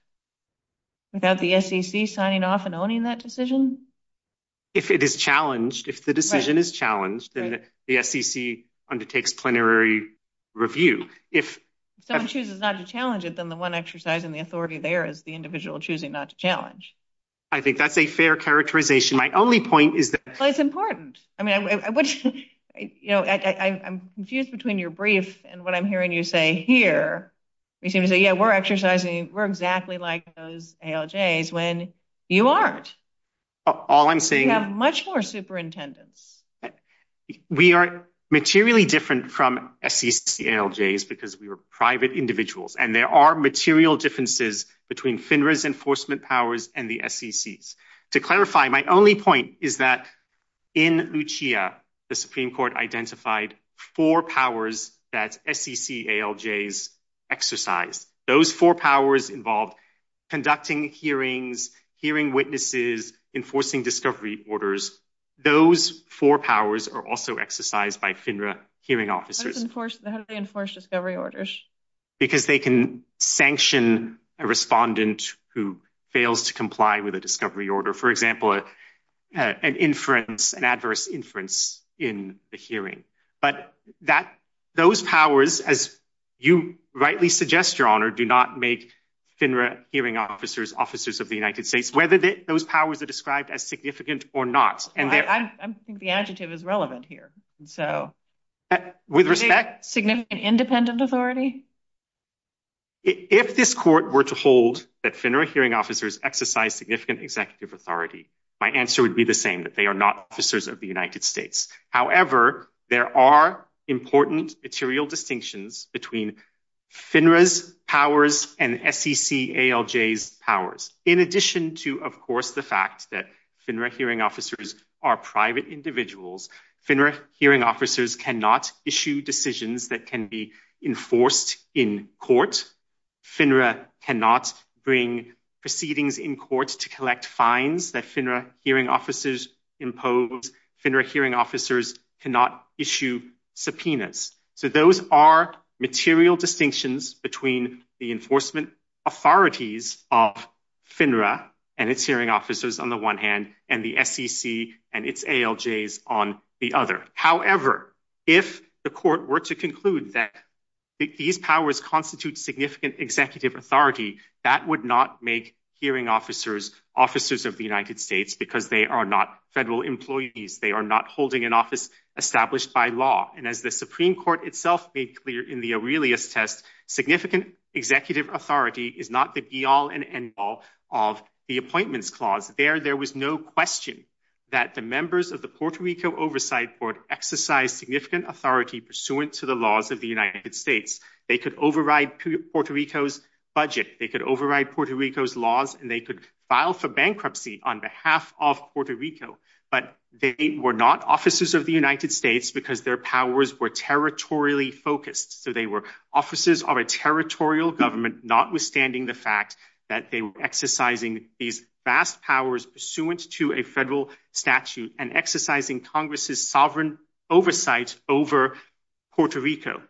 without the SEC signing off and owning that decision? If it is challenged, if the decision is challenged, then the SEC undertakes plenary review. If someone chooses not to challenge it, then the one exercising the authority there is the individual choosing not to challenge. I think that's a fair characterization. My only point is that... Well, it's important. I'm confused between your brief and what I'm hearing you say here. You seem to say, yeah, we're exercising, we're exactly like those ALJs, when you aren't. All I'm saying is... You have much more superintendents. We are materially different from SEC ALJs because we are private individuals and there are material differences between FINRA's enforcement powers and the SEC's. To clarify, my only point is that in Lucia, the Supreme Court identified four powers that SEC ALJs exercise. Those four powers involve conducting hearings, hearing witnesses, enforcing discovery orders. Those four powers are also exercised by FINRA hearing officers. How do they enforce discovery orders? Because they can sanction a respondent who fails to comply with a discovery order. For example, an inference, an adverse inference in the hearing. But those powers, as you rightly suggest, Your Honor, do not make FINRA hearing officers officers of the United States, whether those powers are described as significant or not. I think the adjective is relevant here. With respect... Significant independent authority? If this court were to hold that FINRA hearing officers exercise significant executive authority, my answer would be the same, that they are not officers of the United States. However, there are important material distinctions between FINRA's powers and SEC ALJ's powers. In addition to, of course, the fact that FINRA hearing officers are private individuals, FINRA hearing officers cannot issue decisions that can be enforced in court. FINRA cannot bring proceedings in court to collect fines that FINRA hearing officers impose. FINRA hearing officers cannot issue subpoenas. So those are material distinctions between the enforcement authorities of FINRA and its hearing officers on the one hand, and the SEC and its ALJs on the other. However, if the court were to conclude that these powers constitute significant executive authority, that would not make hearing officers officers of the United States because they are not federal employees. They are not holding an office established by law. And as the Supreme Court itself made clear in the Aurelius test, significant executive authority is not the be-all and end-all of the Appointments Clause. There, there was no question that the members of the Puerto Rico Oversight Board exercised significant authority pursuant to the laws of the United States. They could override Puerto Rico's budget, they could override Puerto Rico's laws, and they could file for bankruptcy on behalf of Puerto Rico. But they were not officers of the United States because their powers were territorially focused. So they were officers of a territorial government, notwithstanding the fact that they were exercising these vast powers pursuant to a federal statute and exercising Congress's sovereign oversight over Puerto Rico.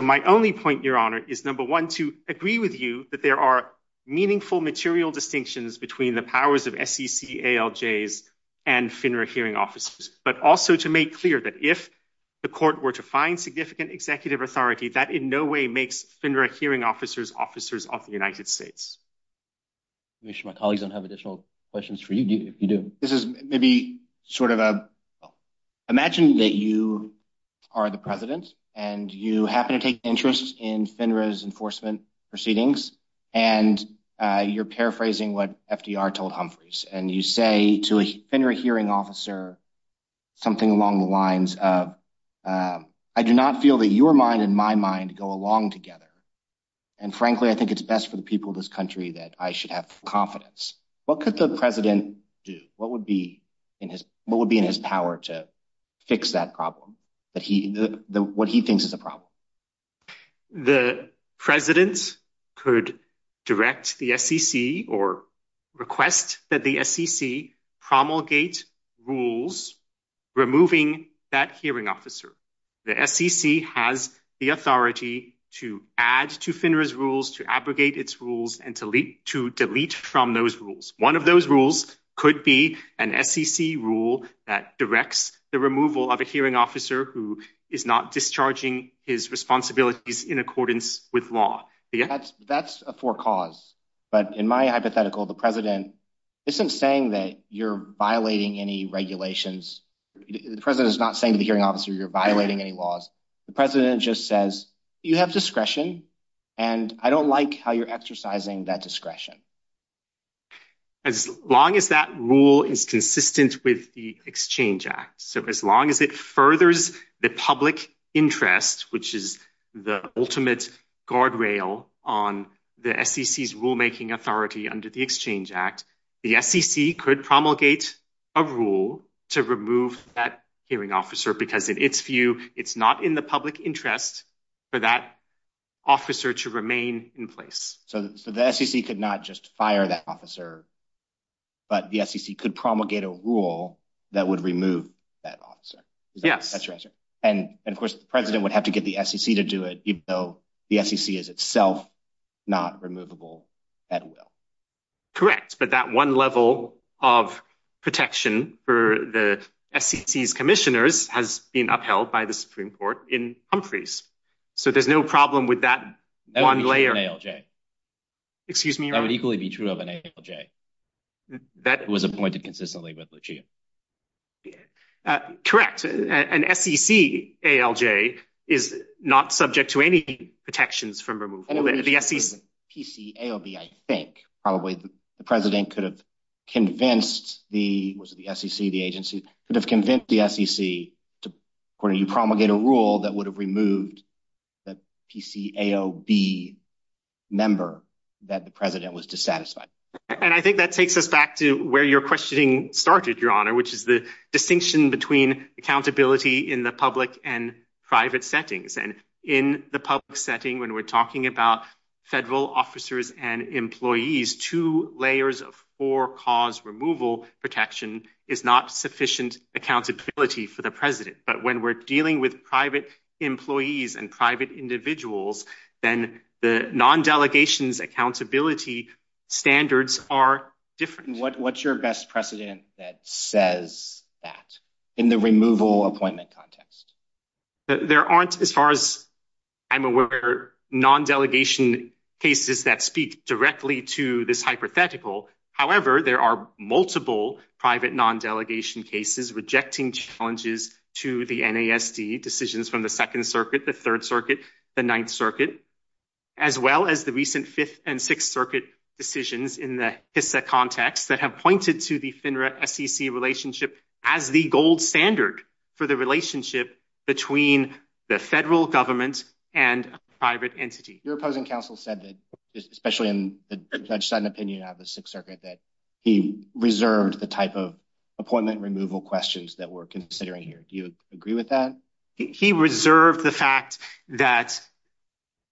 My only point, Your Honor, is number one, to agree with you that there are meaningful material distinctions between the powers of SEC, ALJs, and FINRA hearing officers. But also to make clear that if the court were to find significant executive authority, that in no way makes FINRA hearing officers officers of the United States. I'm sure my colleagues don't have additional questions for you. You do. This is maybe sort of a – imagine that you are the president and you happen to take interest in FINRA's enforcement proceedings, and you're paraphrasing what FDR told Humphreys. And you say to a FINRA hearing officer something along the lines of, I do not feel that your mind and my mind go along together. And frankly, I think it's best for the people of this country that I should have confidence. What could the president do? What would be in his power to fix that problem, what he thinks is the problem? The president could direct the SEC or request that the SEC promulgate rules removing that hearing officer. The SEC has the authority to add to FINRA's rules, to abrogate its rules, and to delete from those rules. One of those rules could be an SEC rule that directs the removal of a hearing officer who is not discharging his responsibilities in accordance with law. That's a forecause. But in my hypothetical, the president isn't saying that you're violating any regulations. The president is not saying to the hearing officer you're violating any laws. The president just says, you have discretion, and I don't like how you're exercising that discretion. As long as that rule is consistent with the Exchange Act. So as long as it furthers the public interest, which is the ultimate guardrail on the SEC's rulemaking authority under the Exchange Act, the SEC could promulgate a rule to remove that hearing officer because in its view, it's not in the public interest for that officer to remain in place. So the SEC could not just fire that officer, but the SEC could promulgate a rule that would remove that officer. And of course, the president would have to get the SEC to do it, even though the SEC is itself not removable at will. Correct. But that one level of protection for the SEC's commissioners has been upheld by the Supreme Court in Humphreys. So there's no problem with that one layer. Excuse me. That would equally be true of an ALJ. That was appointed consistently with the Chief. Correct. An SEC ALJ is not subject to any protections from removal. PCAOB, I think probably the president could have convinced the SEC, the agency could have convinced the SEC to promulgate a rule that would have removed the PCAOB member that the president was dissatisfied. And I think that takes us back to where your questioning started, Your Honor, which is the distinction between accountability in the public and private settings. And in the public setting, when we're talking about federal officers and employees, two layers of for-cause removal protection is not sufficient accountability for the president. But when we're dealing with private employees and private individuals, then the non-delegations accountability standards are different. What's your best precedent that says that in the removal appointment context? There aren't, as far as I'm aware, non-delegation cases that speak directly to this hypothetical. However, there are multiple private non-delegation cases rejecting challenges to the NASD decisions from the Second Circuit, the Third Circuit, the Ninth Circuit, as well as the recent Fifth and Sixth Circuit decisions in the HISA context that have pointed to the FINRA-SEC relationship as the gold standard for the relationship between the federal government and private entities. Your opposing counsel said that, especially in the judge's own opinion out of the Sixth Circuit, that he reserved the type of appointment removal questions that we're considering here. Do you agree with that? He reserved the fact that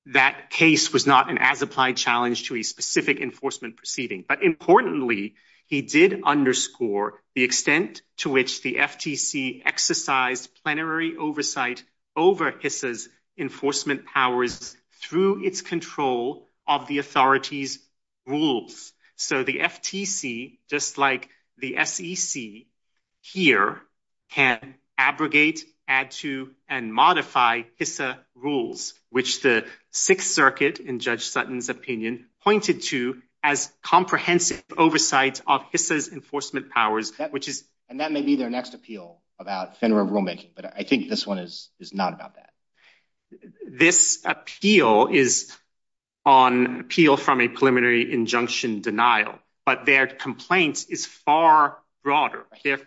that case was not an as-applied challenge to a specific enforcement proceeding. But importantly, he did underscore the extent to which the FTC exercised plenary oversight over HISA's enforcement powers through its control of the authorities' rules. So the FTC, just like the SEC here, can abrogate, add to, and modify HISA rules, which the Sixth Circuit, in Judge Sutton's opinion, pointed to as comprehensive oversight of HISA's enforcement powers. And that may be their next appeal about FINRA rulemaking, but I think this one is not about that. This appeal is on appeal from a preliminary injunction denial, but their complaint is far broader. Their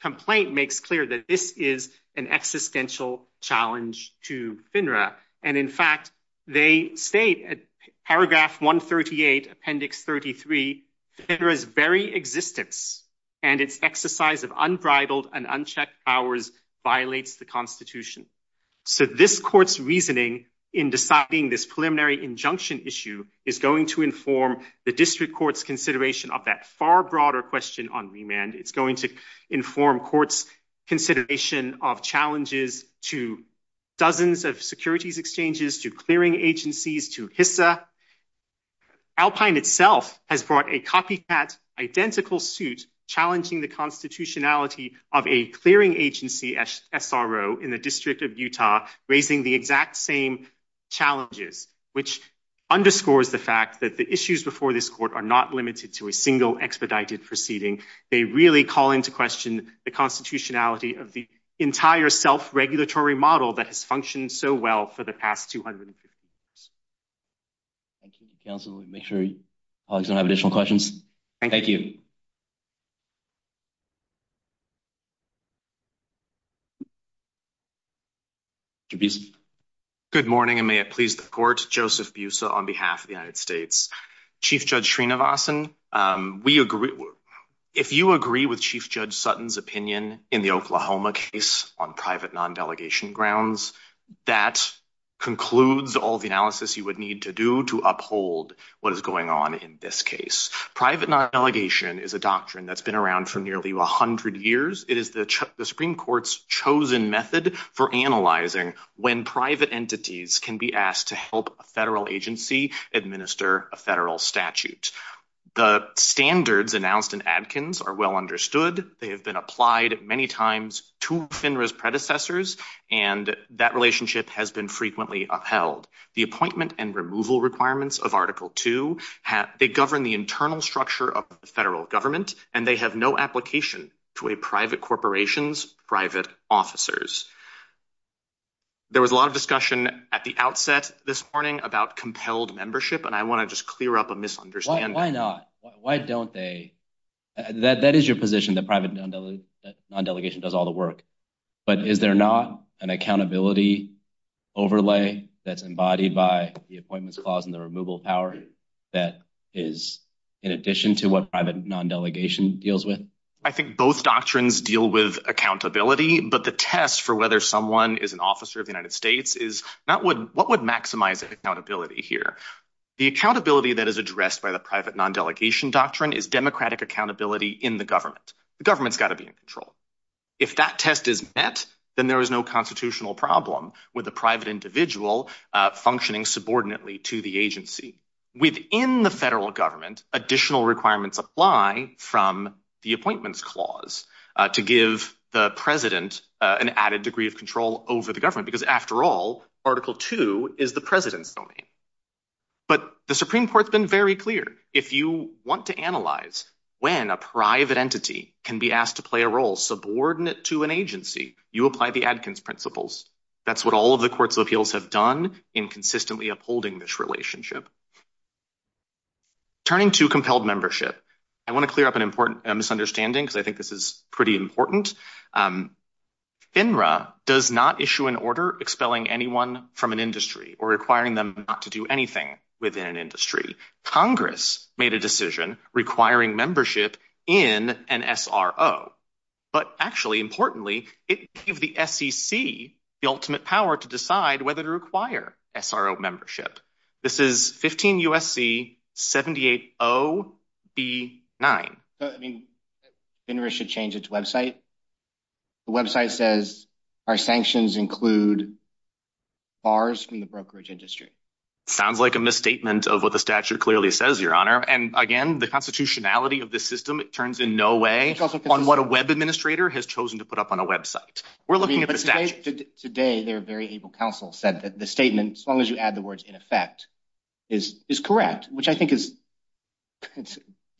complaint makes clear that this is an existential challenge to FINRA. And in fact, they state at paragraph 138, appendix 33, FINRA's very existence and its exercise of unbridled and unchecked powers violates the Constitution. So this court's reasoning in deciding this preliminary injunction issue is going to inform the district court's consideration of that far broader question on remand. It's going to inform courts' consideration of challenges to dozens of securities exchanges, to clearing agencies, to HISA. Alpine itself has brought a copycat, identical suit challenging the constitutionality of a clearing agency, SRO, in the District of Utah, raising the exact same challenges, which underscores the fact that the issues before this court are not limited to a single expedited proceeding. They really call into question the constitutionality of the entire self-regulatory model that has functioned so well for the past 200 years. Thank you, counsel. Make sure colleagues don't have additional questions. Thank you. Good morning, and may it please the court. Joseph Busa on behalf of the United States. Chief Judge Srinivasan, if you agree with Chief Judge Sutton's opinion in the Oklahoma case on private non-delegation grounds, that concludes all the analysis you would need to do to uphold what is going on in this case. Private non-delegation is a doctrine that's been around for nearly 100 years. It is the Supreme Court's chosen method for analyzing when private entities can be asked to help a federal agency administer a federal statute. The standards announced in Adkins are well understood. They have been applied many times to FINRA's predecessors, and that relationship has been frequently upheld. The appointment and removal requirements of Article II govern the internal structure of the federal government, and they have no application to a private corporation's private officers. There was a lot of discussion at the outset this morning about compelled membership, and I want to just clear up a misunderstanding. Why not? Why don't they? That is your position, that private non-delegation does all the work, but is there not an accountability overlay that's embodied by the appointments clause and the removal power that is in addition to what private non-delegation deals with? I think both doctrines deal with accountability, but the test for whether someone is an officer of the United States is what would maximize the accountability here? The accountability that is addressed by the private non-delegation doctrine is democratic accountability in the government. The government's got to be in control. If that test is met, then there is no constitutional problem with a private individual functioning subordinately to the agency. Within the federal government, additional requirements apply from the appointments clause to give the president an added degree of control over the government, because after all, Article II is the president's domain. But the Supreme Court's been very clear. If you want to analyze when a private entity can be asked to play a role subordinate to an agency, you apply the Adkins Principles. That's what all of the courts of appeals have done in consistently upholding this relationship. Turning to compelled membership, I want to clear up an important misunderstanding, because I think this is pretty important. FINRA does not issue an order expelling anyone from an industry or requiring them not to do anything within an industry. Congress made a decision requiring membership in an SRO, but actually, importantly, it gave the SEC the ultimate power to decide whether to require SRO membership. This is 15 U.S.C. 780B9. FINRA should change its website. The website says our sanctions include bars from the brokerage industry. Sounds like a misstatement of what the statute clearly says, Your Honor. And again, the constitutionality of this system, it turns in no way on what a web administrator has chosen to put up on a website. Today, their very able counsel said that the statement, as long as you add the words in effect, is correct, which I think is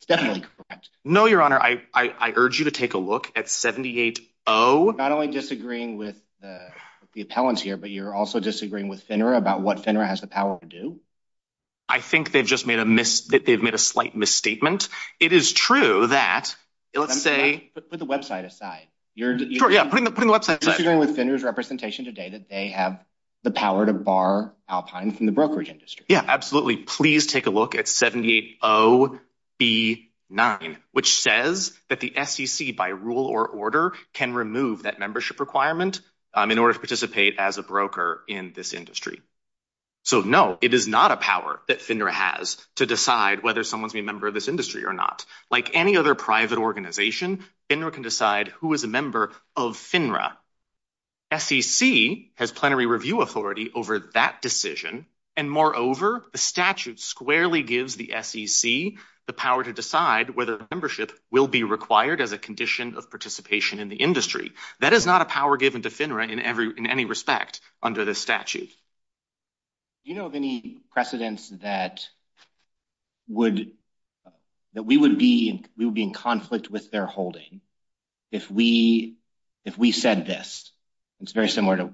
definitely correct. No, Your Honor. I urge you to take a look at 780… You're not only disagreeing with the appellant here, but you're also disagreeing with FINRA about what FINRA has the power to do. I think they've just made a slight misstatement. It is true that… Put the website aside. You're disagreeing with FINRA's representation today that they have the power to bar Alpine from the brokerage industry. Yeah, absolutely. Please take a look at 780B9, which says that the SEC, by rule or order, can remove that membership requirement in order to participate as a broker in this industry. So, no, it is not a power that FINRA has to decide whether someone's a member of this industry or not. Like any other private organization, FINRA can decide who is a member of FINRA. SEC has plenary review authority over that decision, and moreover, the statute squarely gives the SEC the power to decide whether the membership will be required as a condition of participation in the industry. That is not a power given to FINRA in any respect under the statute. Do you know of any precedents that we would be in conflict with their holding if we said this? It's very similar to,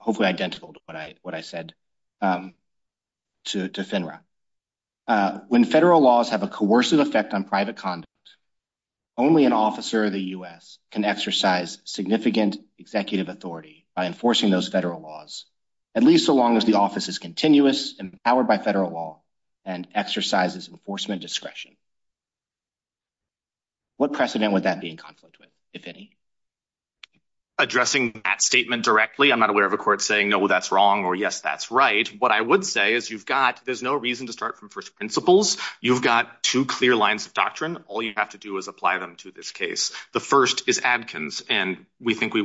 hopefully identical to what I said to FINRA. When federal laws have a coercive effect on private conduct, only an officer of the U.S. can exercise significant executive authority by enforcing those federal laws, at least so long as the office is continuous, empowered by federal law, and exercises enforcement discretion. What precedent would that be in conflict with, if any? Addressing that statement directly, I'm not aware of a court saying, no, that's wrong, or yes, that's right. What I would say is you've got, there's no reason to start from first principles. You've got two clear lines of doctrine. All you have to do is apply them to this case. The first is Adkins, and we think we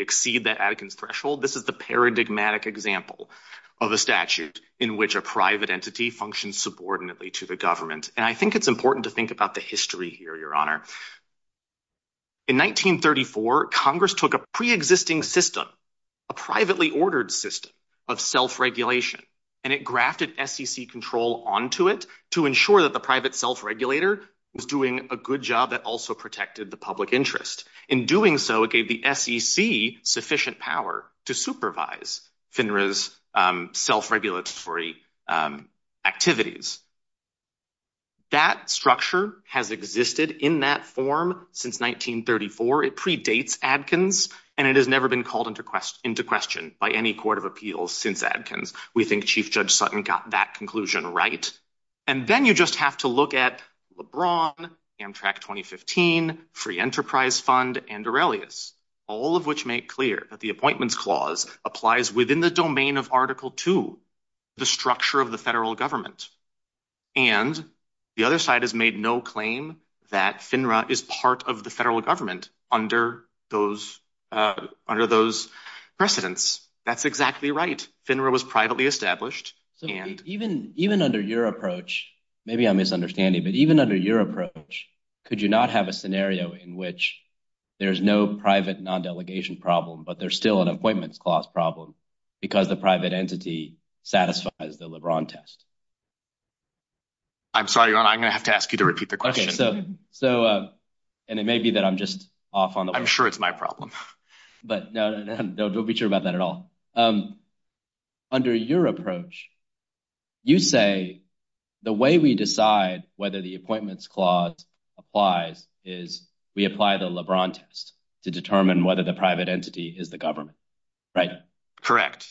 exceed that Adkins threshold. This is the paradigmatic example of a statute in which a private entity functions subordinately to the government. And I think it's important to think about the history here, Your Honor. In 1934, Congress took a pre-existing system, a privately ordered system of self-regulation, and it grafted SEC control onto it to ensure that the private self-regulator was doing a good job that also protected the public interest. In doing so, it gave the SEC sufficient power to supervise FINRA's self-regulatory activities. That structure has existed in that form since 1934. It predates Adkins, and it has never been called into question by any court of appeals since Adkins. We think Chief Judge Sutton got that conclusion right. And then you just have to look at LeBron, Amtrak 2015, Free Enterprise Fund, and Aurelius, all of which make clear that the Appointments Clause applies within the domain of Article II, the structure of the federal government. And the other side has made no claim that FINRA is part of the federal government under those precedents. That's exactly right. FINRA was privately established. Even under your approach, maybe I'm misunderstanding, but even under your approach, could you not have a scenario in which there's no private non-delegation problem, but there's still an Appointments Clause problem because a private entity satisfies the LeBron test? I'm sorry, Ron, I'm going to have to ask you to repeat the question. Okay, so, and it may be that I'm just off on the... I'm sure it's my problem. But no, don't be sure about that at all. Under your approach, you say the way we decide whether the Appointments Clause applies is we apply the LeBron test to determine whether the private entity is the government, right?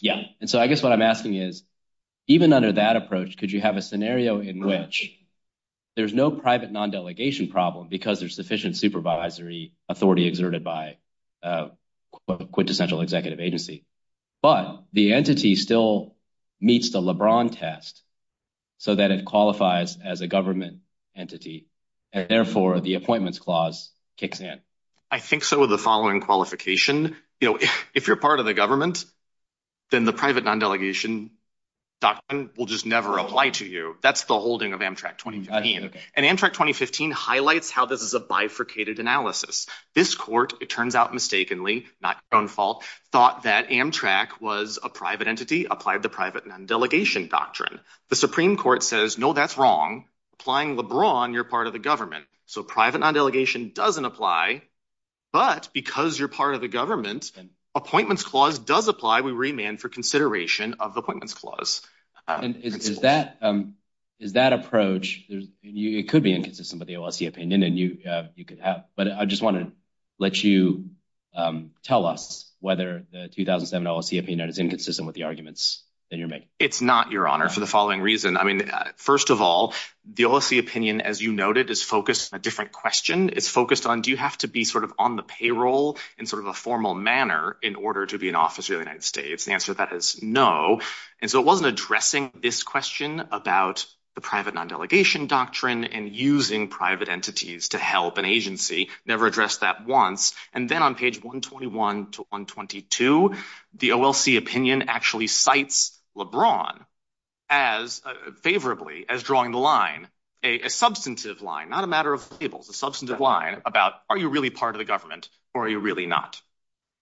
Yeah, and so I guess what I'm asking is, even under that approach, could you have a scenario in which there's no private non-delegation problem because there's sufficient supervisory authority exerted by a quintessential executive agency, but the entity still meets the LeBron test so that it qualifies as a government entity, and therefore the Appointments Clause kicks in? I think so with the following qualification. If you're part of the government, then the private non-delegation doctrine will just never apply to you. That's the holding of Amtrak 2015. And Amtrak 2015 highlights how this is a bifurcated analysis. This court, it turns out mistakenly, not your own fault, thought that Amtrak was a private entity, applied the private non-delegation doctrine. The Supreme Court says, no, that's wrong. Applying LeBron, you're part of the government. So private non-delegation doesn't apply, but because you're part of the government, Appointments Clause does apply with remand for consideration of the Appointments Clause. And is that approach, it could be inconsistent with the OLC opinion, and you could have, but I just want to let you tell us whether the 2007 OLC opinion is inconsistent with the arguments that you're making. It's not, Your Honor, for the following reason. I mean, first of all, the OLC opinion, as you noted, is focused on a different question. It's focused on, do you have to be sort of on the payroll in sort of a formal manner in order to be an officer of the United States? The answer to that is no. And so it wasn't addressing this question about the private non-delegation doctrine and using private entities to help an agency, never addressed that once. And then on page 121 to 122, the OLC opinion actually cites LeBron as favorably as drawing the line, a substantive line, not a matter of labels, a substantive line about, are you really part of the government or are you really not?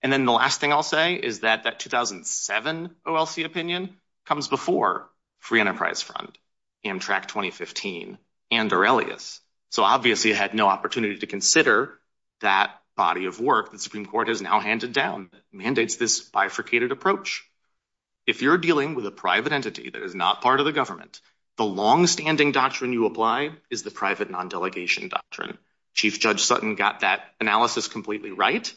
And then the last thing I'll say is that that 2007 OLC opinion comes before Free Enterprise Fund, Amtrak 2015, and Aurelius. So obviously it had no opportunity to consider that body of work that the Supreme Court has now handed down that mandates this bifurcated approach. If you're dealing with a private entity that is not part of the government, the longstanding doctrine you apply is the private non-delegation doctrine. Chief Judge Sutton got that analysis completely right,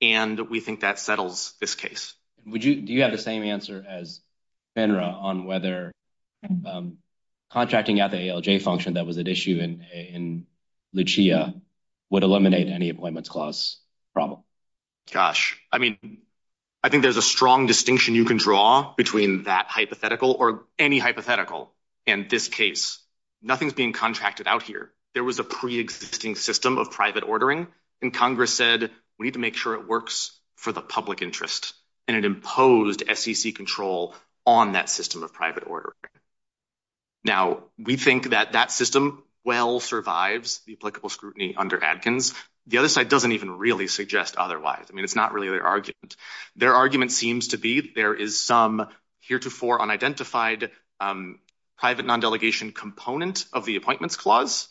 and we think that settles this case. Do you have the same answer as Fenra on whether contracting out the ALJ function that was at issue in Lucia would eliminate any Appointments Clause problem? Josh, I mean, I think there's a strong distinction you can draw between that hypothetical or any hypothetical in this case. Nothing's being contracted out here. There was a pre-existing system of private ordering, and Congress said, we need to make sure it works for the public interest, and it imposed SEC control on that system of private ordering. Now, we think that that system well survives the applicable scrutiny under Adkins. The other side doesn't even really suggest otherwise. I mean, it's not really their argument. Their argument seems to be there is some heretofore unidentified private non-delegation component of the Appointments Clause.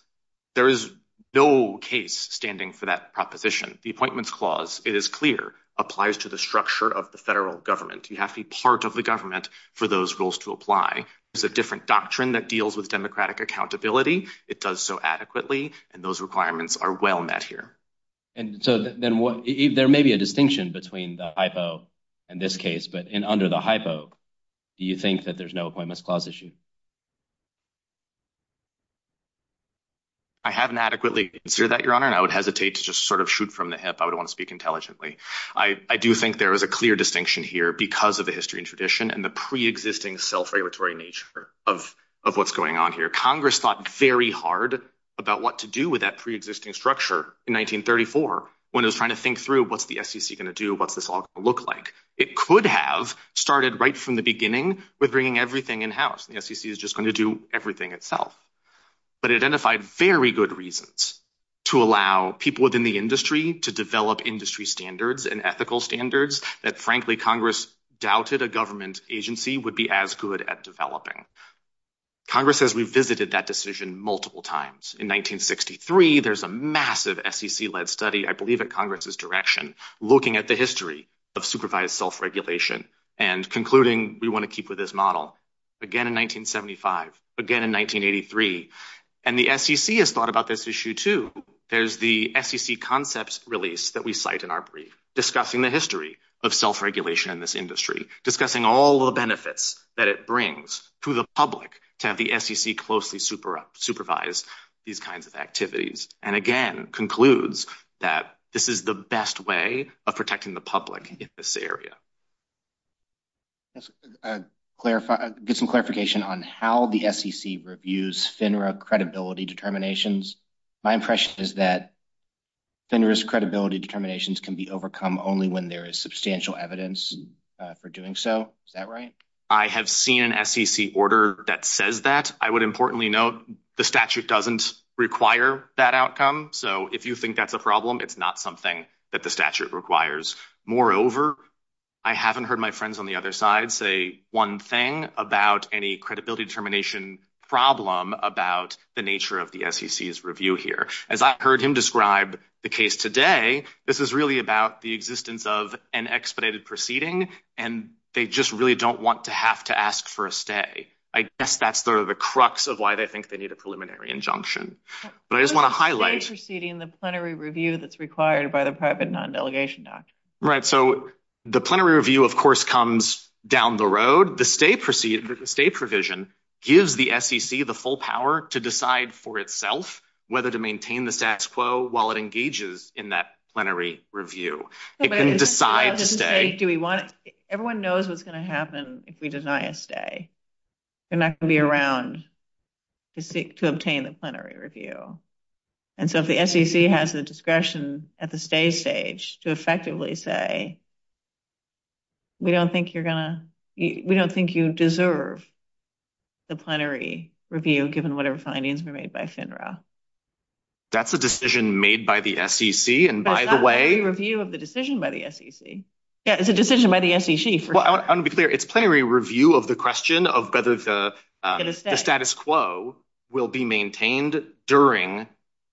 There is no case standing for that proposition. The Appointments Clause, it is clear, applies to the structure of the federal government. You have to be part of the government for those rules to apply. It's a different doctrine that deals with democratic accountability. It does so adequately, and those requirements are well met here. And so then there may be a distinction between the hypo in this case, but under the hypo, do you think that there's no Appointments Clause issue? I haven't adequately answered that, Your Honor, and I would hesitate to just sort of shoot from the hip. I would want to speak intelligently. I do think there is a clear distinction here because of the history and tradition and the pre-existing self-regulatory nature of what's going on here. Congress thought very hard about what to do with that pre-existing structure in 1934 when it was trying to think through what's the SEC going to do, what's this all going to look like. It could have started right from the beginning with bringing everything in-house. The SEC is just going to do everything itself. But it identified very good reasons to allow people within the industry to develop industry standards and ethical standards that, frankly, Congress doubted a government agency would be as good at developing. Congress has revisited that decision multiple times. In 1963, there's a massive SEC-led study, I believe in Congress's direction, looking at the history of supervised self-regulation and concluding we want to keep with this model. Again in 1975, again in 1983, and the SEC has thought about this issue too. There's the SEC concepts release that we cite in our brief discussing the history of self-regulation in this industry, discussing all the benefits that it brings to the public to have the SEC closely supervise these kinds of activities, and again concludes that this is the best way of protecting the public in this area. Let's get some clarification on how the SEC reviews FINRA credibility determinations. My impression is that FINRA's credibility determinations can be overcome only when there is substantial evidence for doing so. Is that right? I have seen an SEC order that says that. I would importantly note the statute doesn't require that outcome, so if you think that's a problem, it's not something that the statute requires. Moreover, I haven't heard my friends on the other side say one thing about any credibility determination problem about the nature of the SEC's review here. As I heard him describe the case today, this is really about the existence of an expedited proceeding, and they just really don't want to have to ask for a stay. I guess that's sort of the crux of why they think they need a preliminary injunction. I just want to highlight… It's a stay proceeding, the plenary review that's required by the private non-delegation document. Right, so the plenary review, of course, comes down the road. The stay provision gives the SEC the full power to decide for itself whether to maintain the SACS quo while it engages in that plenary review. Everyone knows what's going to happen if we deny a stay. We're not going to be around to obtain a plenary review. And so if the SEC has the discretion at the stay stage to effectively say, we don't think you deserve the plenary review given whatever findings were made by FINRA. That's a decision made by the SEC, and by the way… It's a decision by the SEC. Yeah, it's a decision by the SEC. Well, I want to be clear. It's plenary review of the question of whether the status quo will be maintained during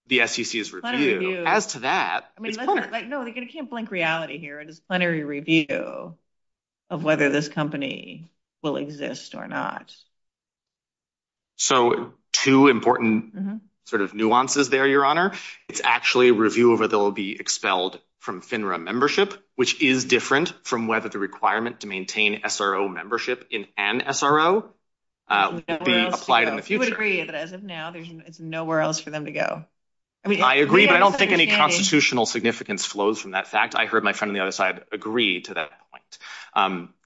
the SEC's review. As to that… No, I can't blink reality here. It's plenary review of whether this company will exist or not. So two important nuances there, Your Honor. It's actually a review of whether they'll be expelled from FINRA membership, which is different from whether the requirement to maintain SRO membership in an SRO would be applied in the future. I would agree, but as of now, there's nowhere else for them to go. I agree, but I don't think any constitutional significance flows from that fact. I heard my friend on the other side agree to that.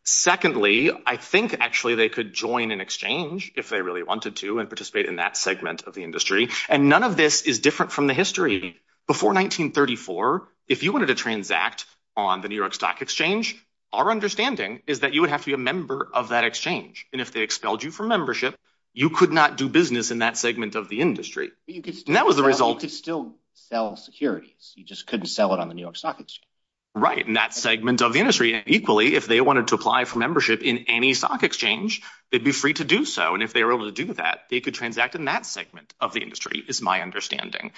Secondly, I think actually they could join an exchange if they really wanted to and participate in that segment of the industry, and none of this is different from the history. Before 1934, if you wanted to transact on the New York Stock Exchange, our understanding is that you would have to be a member of that exchange, and if they expelled you from membership, you could not do business in that segment of the industry. You could still sell securities. You just couldn't sell it on the New York Stock Exchange. Right, in that segment of the industry. And equally, if they wanted to apply for membership in any stock exchange, they'd be free to do so. And if they were able to do that, they could transact in that segment of the industry is my understanding.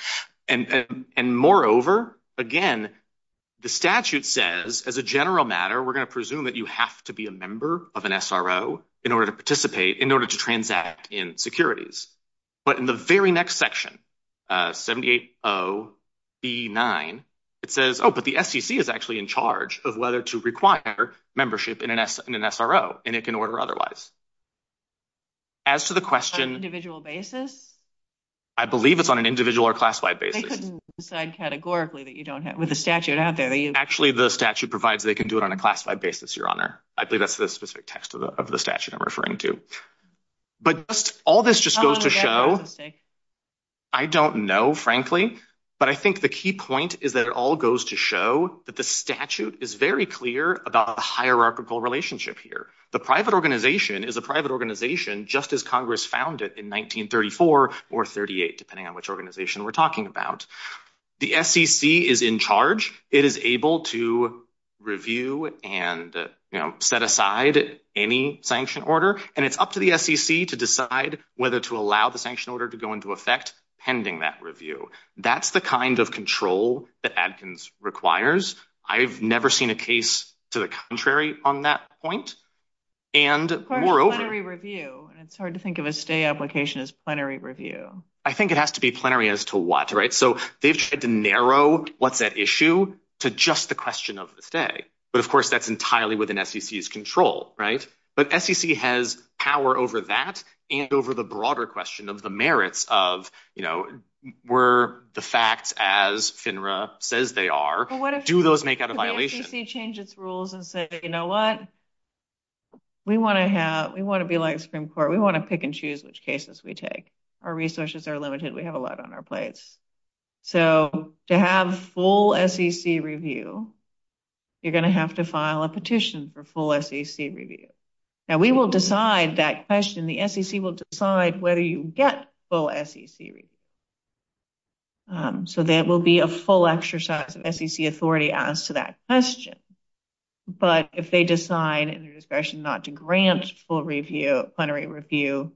And moreover, again, the statute says, as a general matter, we're going to presume that you have to be a member of an SRO in order to participate, in order to transact in securities. But in the very next section, 780E9, it says, oh, but the SEC is actually in charge of whether to require membership in an SRO, and it can order otherwise. As to the question— On an individual basis? I believe it's on an individual or classified basis. They couldn't decide categorically that you don't have—with the statute out there— Actually, the statute provides they can do it on a classified basis, Your Honor. I believe that's the specific text of the statute I'm referring to. But all this just goes to show— I don't know, frankly, but I think the key point is that it all goes to show that the statute is very clear about a hierarchical relationship here. The private organization is a private organization just as Congress found it in 1934 or 1938, depending on which organization we're talking about. The SEC is in charge. It is able to review and set aside any sanction order, and it's up to the SEC to decide whether to allow the sanction order to go into effect pending that review. That's the kind of control that Adkins requires. I've never seen a case to the contrary on that point, and moreover— It's called a plenary review, and it's hard to think of a state application as plenary review. I think it has to be plenary as to what, right? So they've had to narrow what's at issue to just the question of the state. But, of course, that's entirely within SEC's control, right? But SEC has power over that and over the broader question of the merits of, you know, were the facts as FINRA says they are, do those make out a violation? The SEC changes rules and says, you know what? We want to be like Supreme Court. We want to pick and choose which cases we take. Our resources are limited. We have a lot on our plates. So to have full SEC review, you're going to have to file a petition for full SEC review. And we will decide that question. The SEC will decide whether you get full SEC review. So there will be a full exercise of SEC authority as to that question. But if they decide in their discretion not to grant full review, plenary review,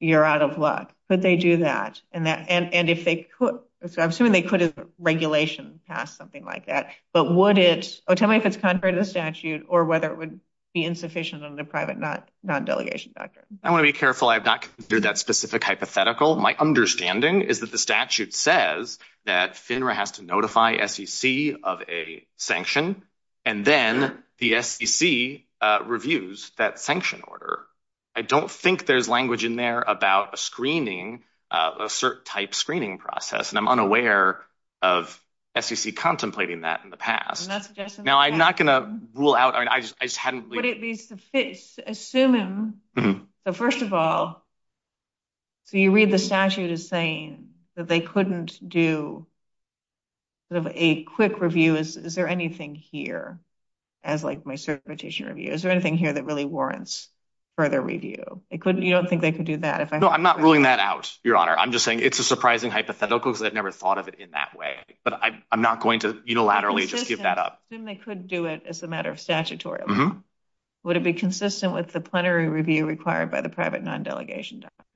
you're out of luck. Could they do that? And if they could—so I'm assuming they could have regulations pass something like that. But would it—oh, tell me if it's contrary to the statute or whether it would be insufficient under the private non-delegation statute. I want to be careful. I have not considered that specific hypothetical. My understanding is that the statute says that FINRA has to notify SEC of a sanction and then the SEC reviews that sanction order. I don't think there's language in there about a screening, a cert type screening process. And I'm unaware of SEC contemplating that in the past. Now, I'm not going to rule out—I just hadn't— Assuming—so first of all, you read the statute as saying that they couldn't do sort of a quick review. Is there anything here as like my certification review? Is there anything here that really warrants further review? You don't think they could do that? No, I'm not ruling that out, Your Honor. I'm just saying it's a surprising hypothetical because I've never thought of it in that way. But I'm not going to unilaterally just give that up. Assume they could do it as a matter of statutory. Would it be consistent with the plenary review required by the private non-delegation doctrine?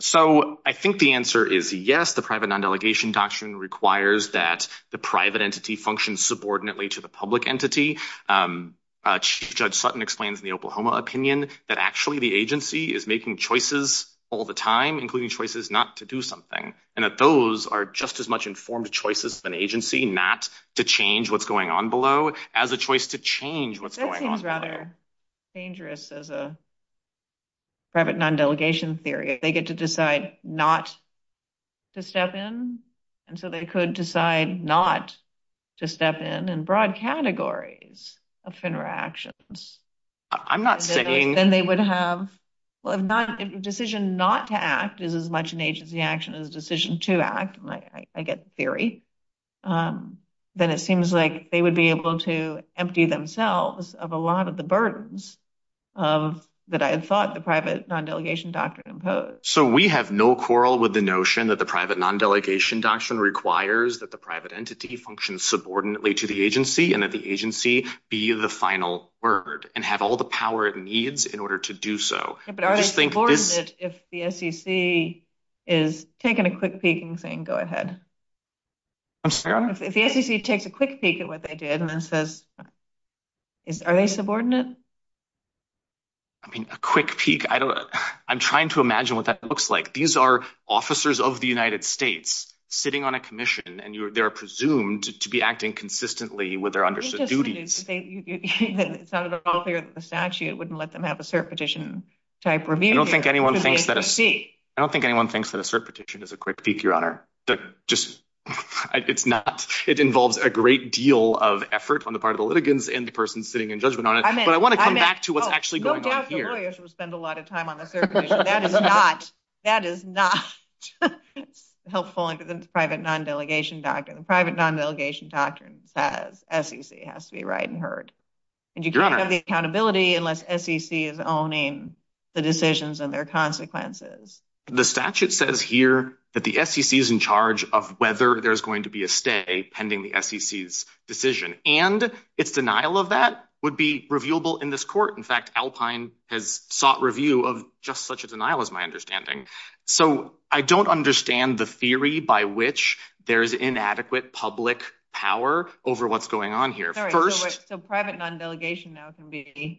So I think the answer is yes. The private non-delegation doctrine requires that the private entity function subordinately to the public entity. Judge Sutton explained in the Oklahoma opinion that actually the agency is making choices all the time, including choices not to do something, and that those are just as much informed choices of an agency not to change what's going on below as a choice to change what's going on below. That seems rather dangerous as a private non-delegation theory. They get to decide not to step in, and so they could decide not to step in in broad categories of interactions. I'm not saying— Well, if a decision not to act is as much an agency action as a decision to act, I get the theory, then it seems like they would be able to empty themselves of a lot of the burdens that I thought the private non-delegation doctrine imposed. So we have no quarrel with the notion that the private non-delegation doctrine requires that the private entity function subordinately to the agency and that the agency be the final word and have all the power it needs in order to do so. But are they subordinate if the SEC is taking a quick peek and saying, go ahead? I'm sorry? If the SEC takes a quick peek at what they did and then says, are they subordinate? I mean, a quick peek. I'm trying to imagine what that looks like. These are officers of the United States sitting on a commission, and they're presumed to be acting consistently with their understood duties. It's not at all clear that the statute wouldn't let them have a cert petition type review. I don't think anyone thinks that a cert petition is a quick peek, Your Honor. It's not. It involves a great deal of effort on the part of the litigants and the person sitting in judgment on it. But I want to come back to what's actually going on here. No doubt the lawyers would spend a lot of time on a cert petition. That is not helpful in the private non-delegation doctrine. That SEC has to be right and heard. And you can't have accountability unless SEC is owning the decisions and their consequences. The statute says here that the SEC is in charge of whether there's going to be a stay pending the SEC's decision. And its denial of that would be reviewable in this court. In fact, Alpine has sought review of just such a denial, is my understanding. So I don't understand the theory by which there's inadequate public power over what's going on here. First, the private non-delegation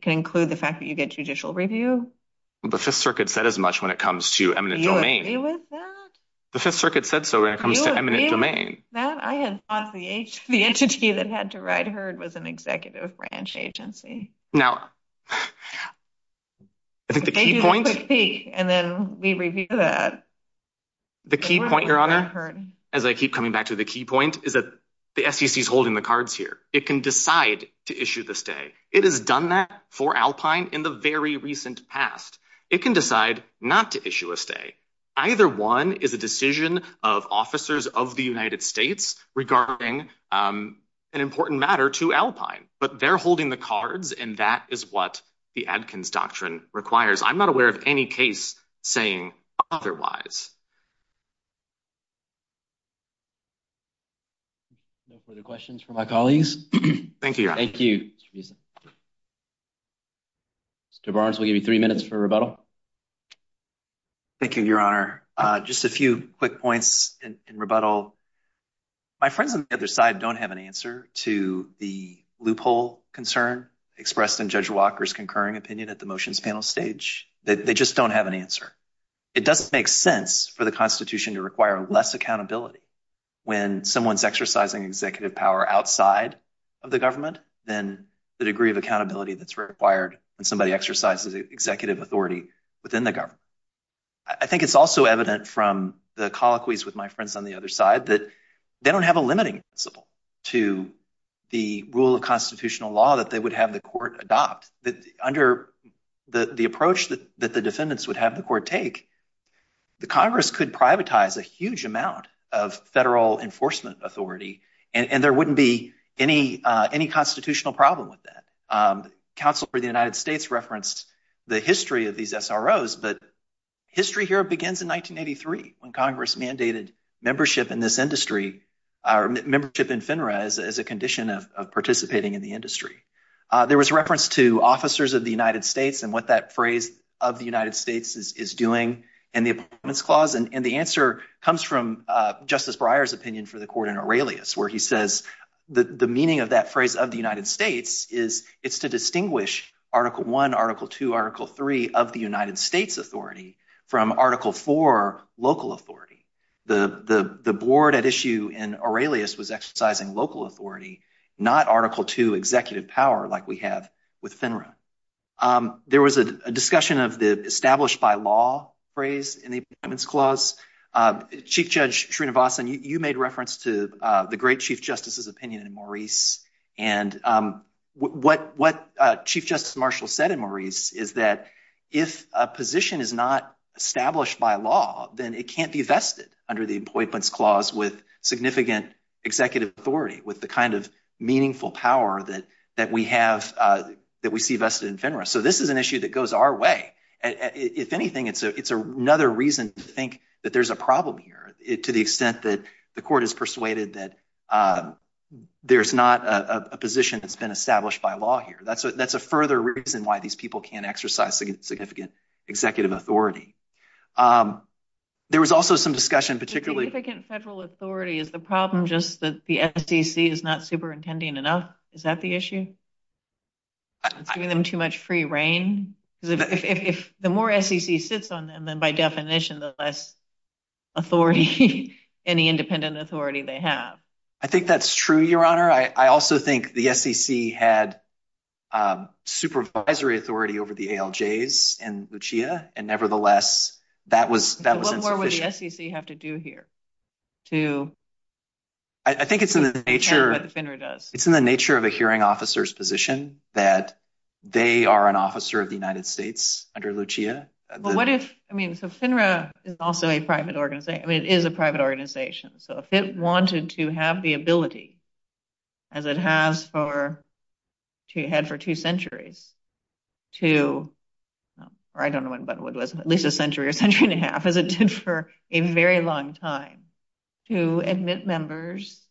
can include the fact that you get judicial review. The Fifth Circuit said as much when it comes to eminent domain. The Fifth Circuit said so when it comes to eminent domain. I had thought the entity that had to ride herd was an executive branch agency. Now, I think the key point, your honor, as I keep coming back to the key point is that the SEC is holding the cards here. It can decide to issue the stay. It has done that for Alpine in the very recent past. It can decide not to issue a stay. Either one is a decision of officers of the United States regarding an important matter to Alpine. But they're holding the cards, and that is what the Adkins Doctrine requires. I'm not aware of any case saying otherwise. No further questions from my colleagues? Thank you, your honor. Thank you. Mr. Barnes, we'll give you three minutes for rebuttal. Thank you, your honor. Just a few quick points in rebuttal. My friends on the other side don't have an answer to the loophole concern expressed in Judge Walker's concurring opinion at the motions panel stage. They just don't have an answer. It doesn't make sense for the Constitution to require less accountability when someone's exercising executive power outside of the government than the degree of accountability that's required when somebody exercises executive authority within the government. I think it's also evident from the colloquies with my friends on the other side that they don't have a limiting principle to the rule of constitutional law that they would have the court adopt. Under the approach that the defendants would have the court take, the Congress could privatize a huge amount of federal enforcement authority, and there wouldn't be any constitutional problem with that. Counsel for the United States referenced the history of these SROs, but history here begins in 1983 when Congress mandated membership in this industry or membership in FINRA as a condition of participating in the industry. There was reference to officers of the United States and what that phrase of the United States is doing in the Appointments Clause, and the answer comes from Justice Breyer's opinion for the court in Aurelius, where he says the meaning of that phrase of the United States is it's to distinguish Article I, Article II, Article III of the United States authority from Article IV local authority. The board at issue in Aurelius was exercising local authority, not Article II executive power like we have with FINRA. There was a discussion of the established by law phrase in the Appointments Clause. Chief Judge Srinivasan, you made reference to the great Chief Justice's opinion in Maurice, and what Chief Justice Marshall said in Maurice is that if a position is not established by law, then it can't be vested under the Appointments Clause with significant executive authority with the kind of meaningful power that we see vested in FINRA. So this is an issue that goes our way. If anything, it's another reason to think that there's a problem here to the extent that the court is persuaded that there's not a position that's been established by law here. That's a further reason why these people can't exercise significant executive authority. There was also some discussion particularly— Significant federal authority is the problem just that the SEC is not superintending enough? Is that the issue? It's giving them too much free reign? If the more SEC sits on them, then by definition, the less authority, any independent authority they have. I think that's true, Your Honor. I also think the SEC had supervisory authority over the ALJs and Lucia, and nevertheless, that was— What would the SEC have to do here to— I think it's in the nature of a hearing officer's position that they are an officer of the United States under Lucia. But what if—I mean, so FINRA is also a private—I mean, it is a private organization. So if it wanted to have the ability, as it has for—as it had for two centuries to—or I don't know what it was, at least a century or a century and a half, as it did for a very long time, to admit members,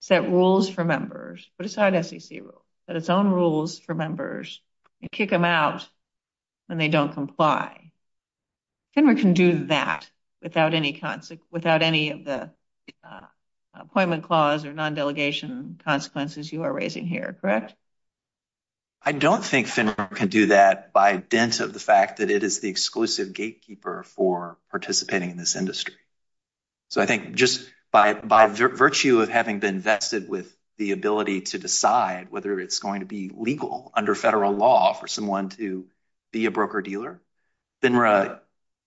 set rules for members, but it's not an SEC rule. But it's own rules for members, and kick them out when they don't comply. FINRA can do that without any of the appointment clause or non-delegation consequences you are raising here, correct? I don't think FINRA can do that by dint of the fact that it is the exclusive gatekeeper for participating in this industry. So I think just by virtue of having been vested with the ability to decide whether it's going to be legal under federal law for someone to be a broker dealer, FINRA,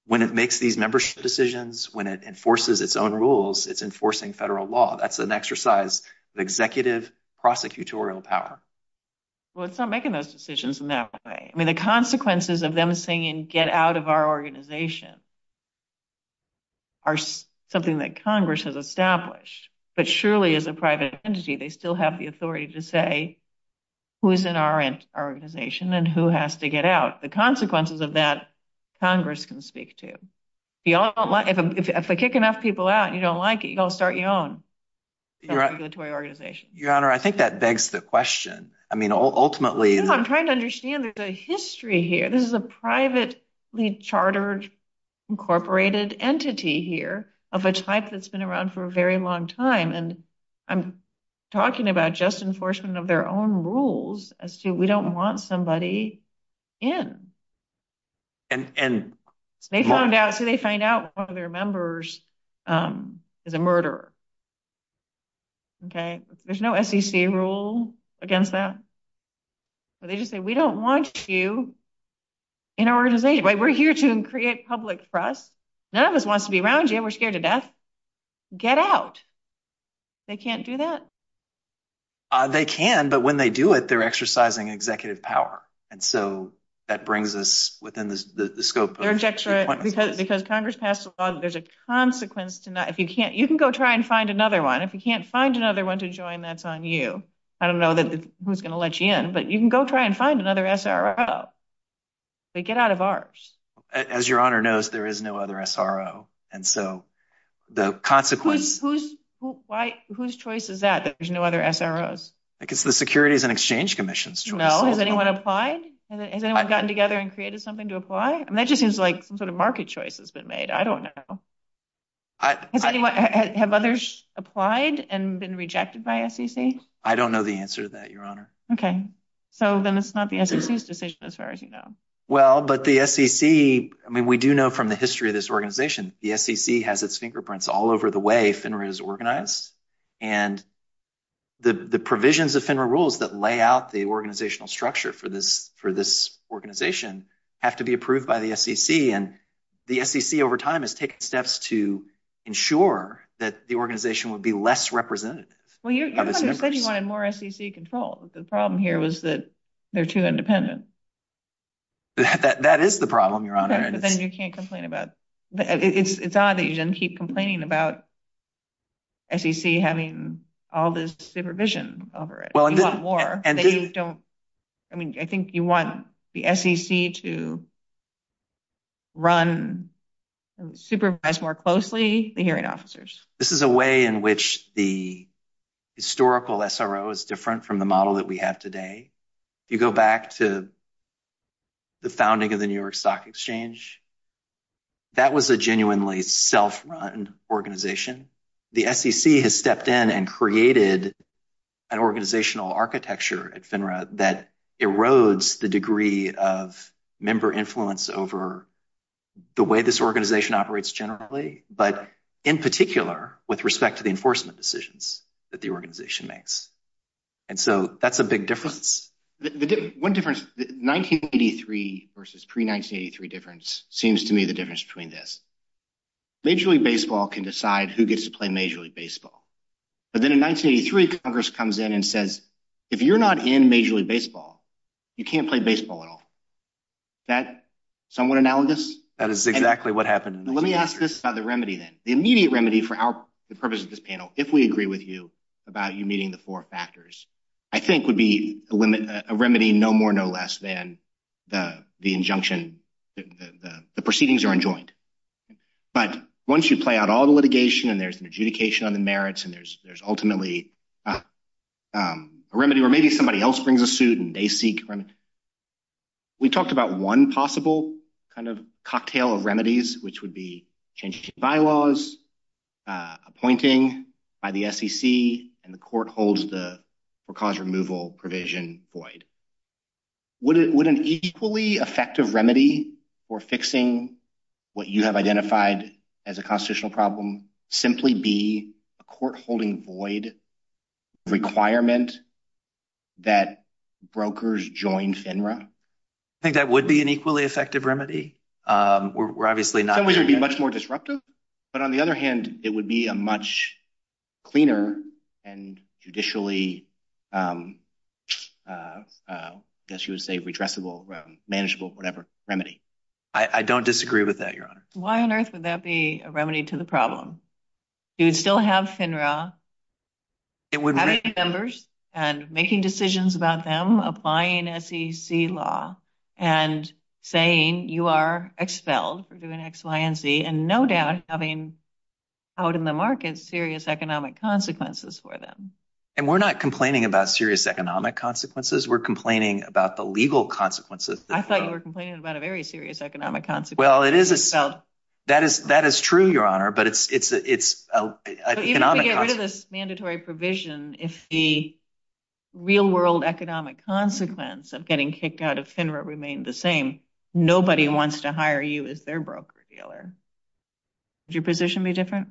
when it makes these membership decisions, when it enforces its own rules, it's enforcing federal law. That's an exercise of executive prosecutorial power. Well, it's not making those decisions in that way. I mean, the consequences of them saying, get out of our organization, are something that Congress has established. But surely, as a private entity, they still have the authority to say who is in our organization and who has to get out. The consequences of that, Congress can speak to. If they kick enough people out and you don't like it, you don't start your own regulatory organization. Your Honor, I think that begs the question. I mean, ultimately— I'm trying to understand the history here. This is a privately chartered, incorporated entity here of a type that's been around for a very long time. And I'm talking about just enforcement of their own rules as to we don't want somebody in. And— So they find out one of their members is a murderer. Okay? There's no SEC rule against that. They just say, we don't want you in our organization. We're here to create public trust. None of us wants to be around you. We're scared to death. Get out. They can't do that? They can, but when they do it, they're exercising executive power. And so that brings us within the scope of— Because Congress passed a law that there's a consequence to not— You can go try and find another one. If you can't find another one to join, that's on you. I don't know who's going to let you in. But you can go try and find another SRO. But get out of ours. As Your Honor knows, there is no other SRO. And so the consequence— Whose choice is that, that there's no other SROs? I guess the Securities and Exchange Commission's choice. No? Has anyone applied? Has anyone gotten together and created something to apply? That just seems like sort of market choice has been made. I don't know. Have others applied and been rejected by SEC? I don't know the answer to that, Your Honor. Okay. So then it's not the SEC's decision as far as you know. Well, but the SEC— I mean, we do know from the history of this organization, the SEC has its fingerprints all over the way FINRA is organized. And the provisions of FINRA rules that lay out the organizational structure for this organization have to be approved by the SEC. And the SEC over time has taken steps to ensure that the organization would be less represented. Well, you said you wanted more SEC control. The problem here was that they're too independent. That is the problem, Your Honor. But then you can't complain about— It's odd that you didn't keep complaining about SEC having all this supervision over it. You want more. I mean, I think you want the SEC to run—supervise more closely the hearing officers. This is a way in which the historical SRO is different from the model that we have today. You go back to the founding of the New York Stock Exchange. That was a genuinely self-run organization. The SEC has stepped in and created an organizational architecture at FINRA that erodes the degree of member influence over the way this organization operates generally, but in particular with respect to the enforcement decisions that the organization makes. And so that's a big difference. One difference—1983 versus pre-1983 difference seems to me the difference between this. Major League Baseball can decide who gets to play Major League Baseball. But then in 1983, Congress comes in and says, if you're not in Major League Baseball, you can't play baseball at all. Is that somewhat analogous? That is exactly what happened. Let me ask this about the remedy then. The immediate remedy for the purpose of this panel, if we agree with you about you meeting the four factors, I think would be a remedy no more, no less than the injunction that the proceedings are enjoined. But once you play out all the litigation and there's an adjudication on the merits and there's ultimately a remedy where maybe somebody else brings a suit and they seek a remedy, we talked about one possible kind of cocktail of remedies, which would be changing bylaws, appointing by the SEC, and the court holds the cause removal provision void. Would an equally effective remedy for fixing what you have identified as a constitutional problem simply be a court holding void requirement that brokers join FINRA? I think that would be an equally effective remedy. That would be much more disruptive. But on the other hand, it would be a much cleaner and judicially, I guess you would say, redressable, manageable, whatever remedy. I don't disagree with that, Your Honor. Why on earth would that be a remedy to the problem? You'd still have FINRA having members and making decisions about them, applying SEC law and saying you are expelled for doing X, Y, and Z and no doubt having out in the market serious economic consequences for them. And we're not complaining about serious economic consequences. We're complaining about the legal consequences. I thought you were complaining about a very serious economic consequence. Well, that is true, Your Honor, but it's an economic consequence. Under this mandatory provision, if the real world economic consequence of getting kicked out of FINRA remained the same, nobody wants to hire you as their broker dealer. Would your position be different?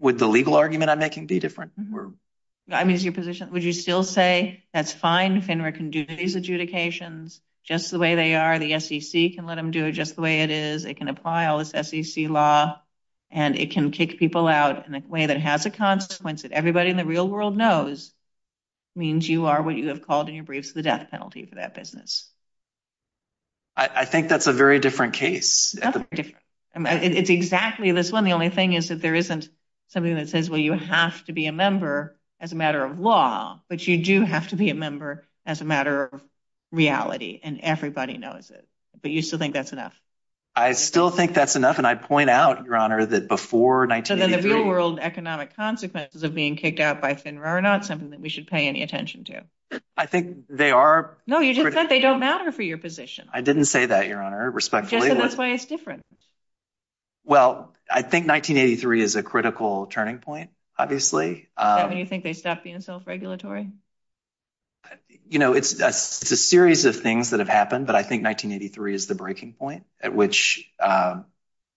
Would the legal argument I'm making be different? Would you still say that's fine, FINRA can do these adjudications just the way they are, the SEC can let them do it just the way it is, they can apply all this SEC law and it can kick people out in a way that has a consequence that everybody in the real world knows means you are what you have called in your briefs the death penalty for that business? I think that's a very different case. It's exactly this one. The only thing is that there isn't something that says, well, you have to be a member as a matter of law, but you do have to be a member as a matter of reality and everybody knows it. But you still think that's enough? I still think that's enough, and I point out, Your Honor, that before 1983… So then the real world economic consequences of being kicked out by FINRA are not something that we should pay any attention to? I think they are… No, you just said they don't matter for your position. I didn't say that, Your Honor, respectfully. Just that that's why it's different. Well, I think 1983 is a critical turning point, obviously. Is that when you think they stopped being self-regulatory? You know, it's a series of things that have happened, but I think 1983 is the breaking point at which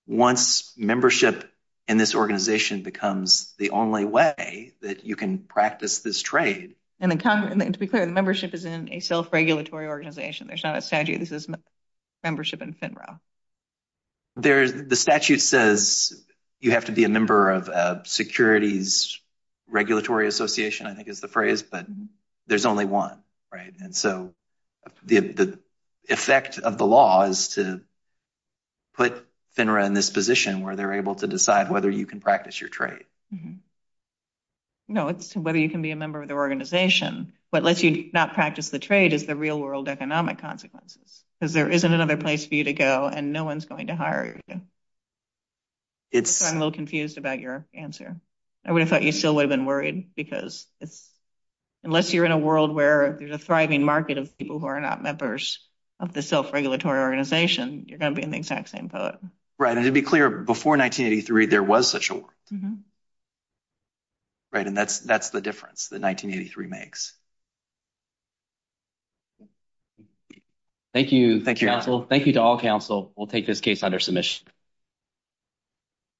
once membership in this organization becomes the only way that you can practice this trade… And to be clear, the membership is in a self-regulatory organization. There's not a statute that says membership in FINRA. The statute says you have to be a member of a securities regulatory association, I think is the phrase, but there's only one, right? And so the effect of the law is to put FINRA in this position where they're able to decide whether you can practice your trade. No, it's whether you can be a member of the organization. What lets you not practice the trade is the real world economic consequences, because there isn't another place for you to go, and no one's going to hire you. So I'm a little confused about your answer. I would have thought you still would have been worried, because unless you're in a world where there's a thriving market of people who are not members of the self-regulatory organization, you're going to be in the exact same boat. Right, and to be clear, before 1983, there was such a world. Right, and that's the difference that 1983 makes. Thank you. Thank you, counsel. Thank you to all counsel. We'll take this case under submission.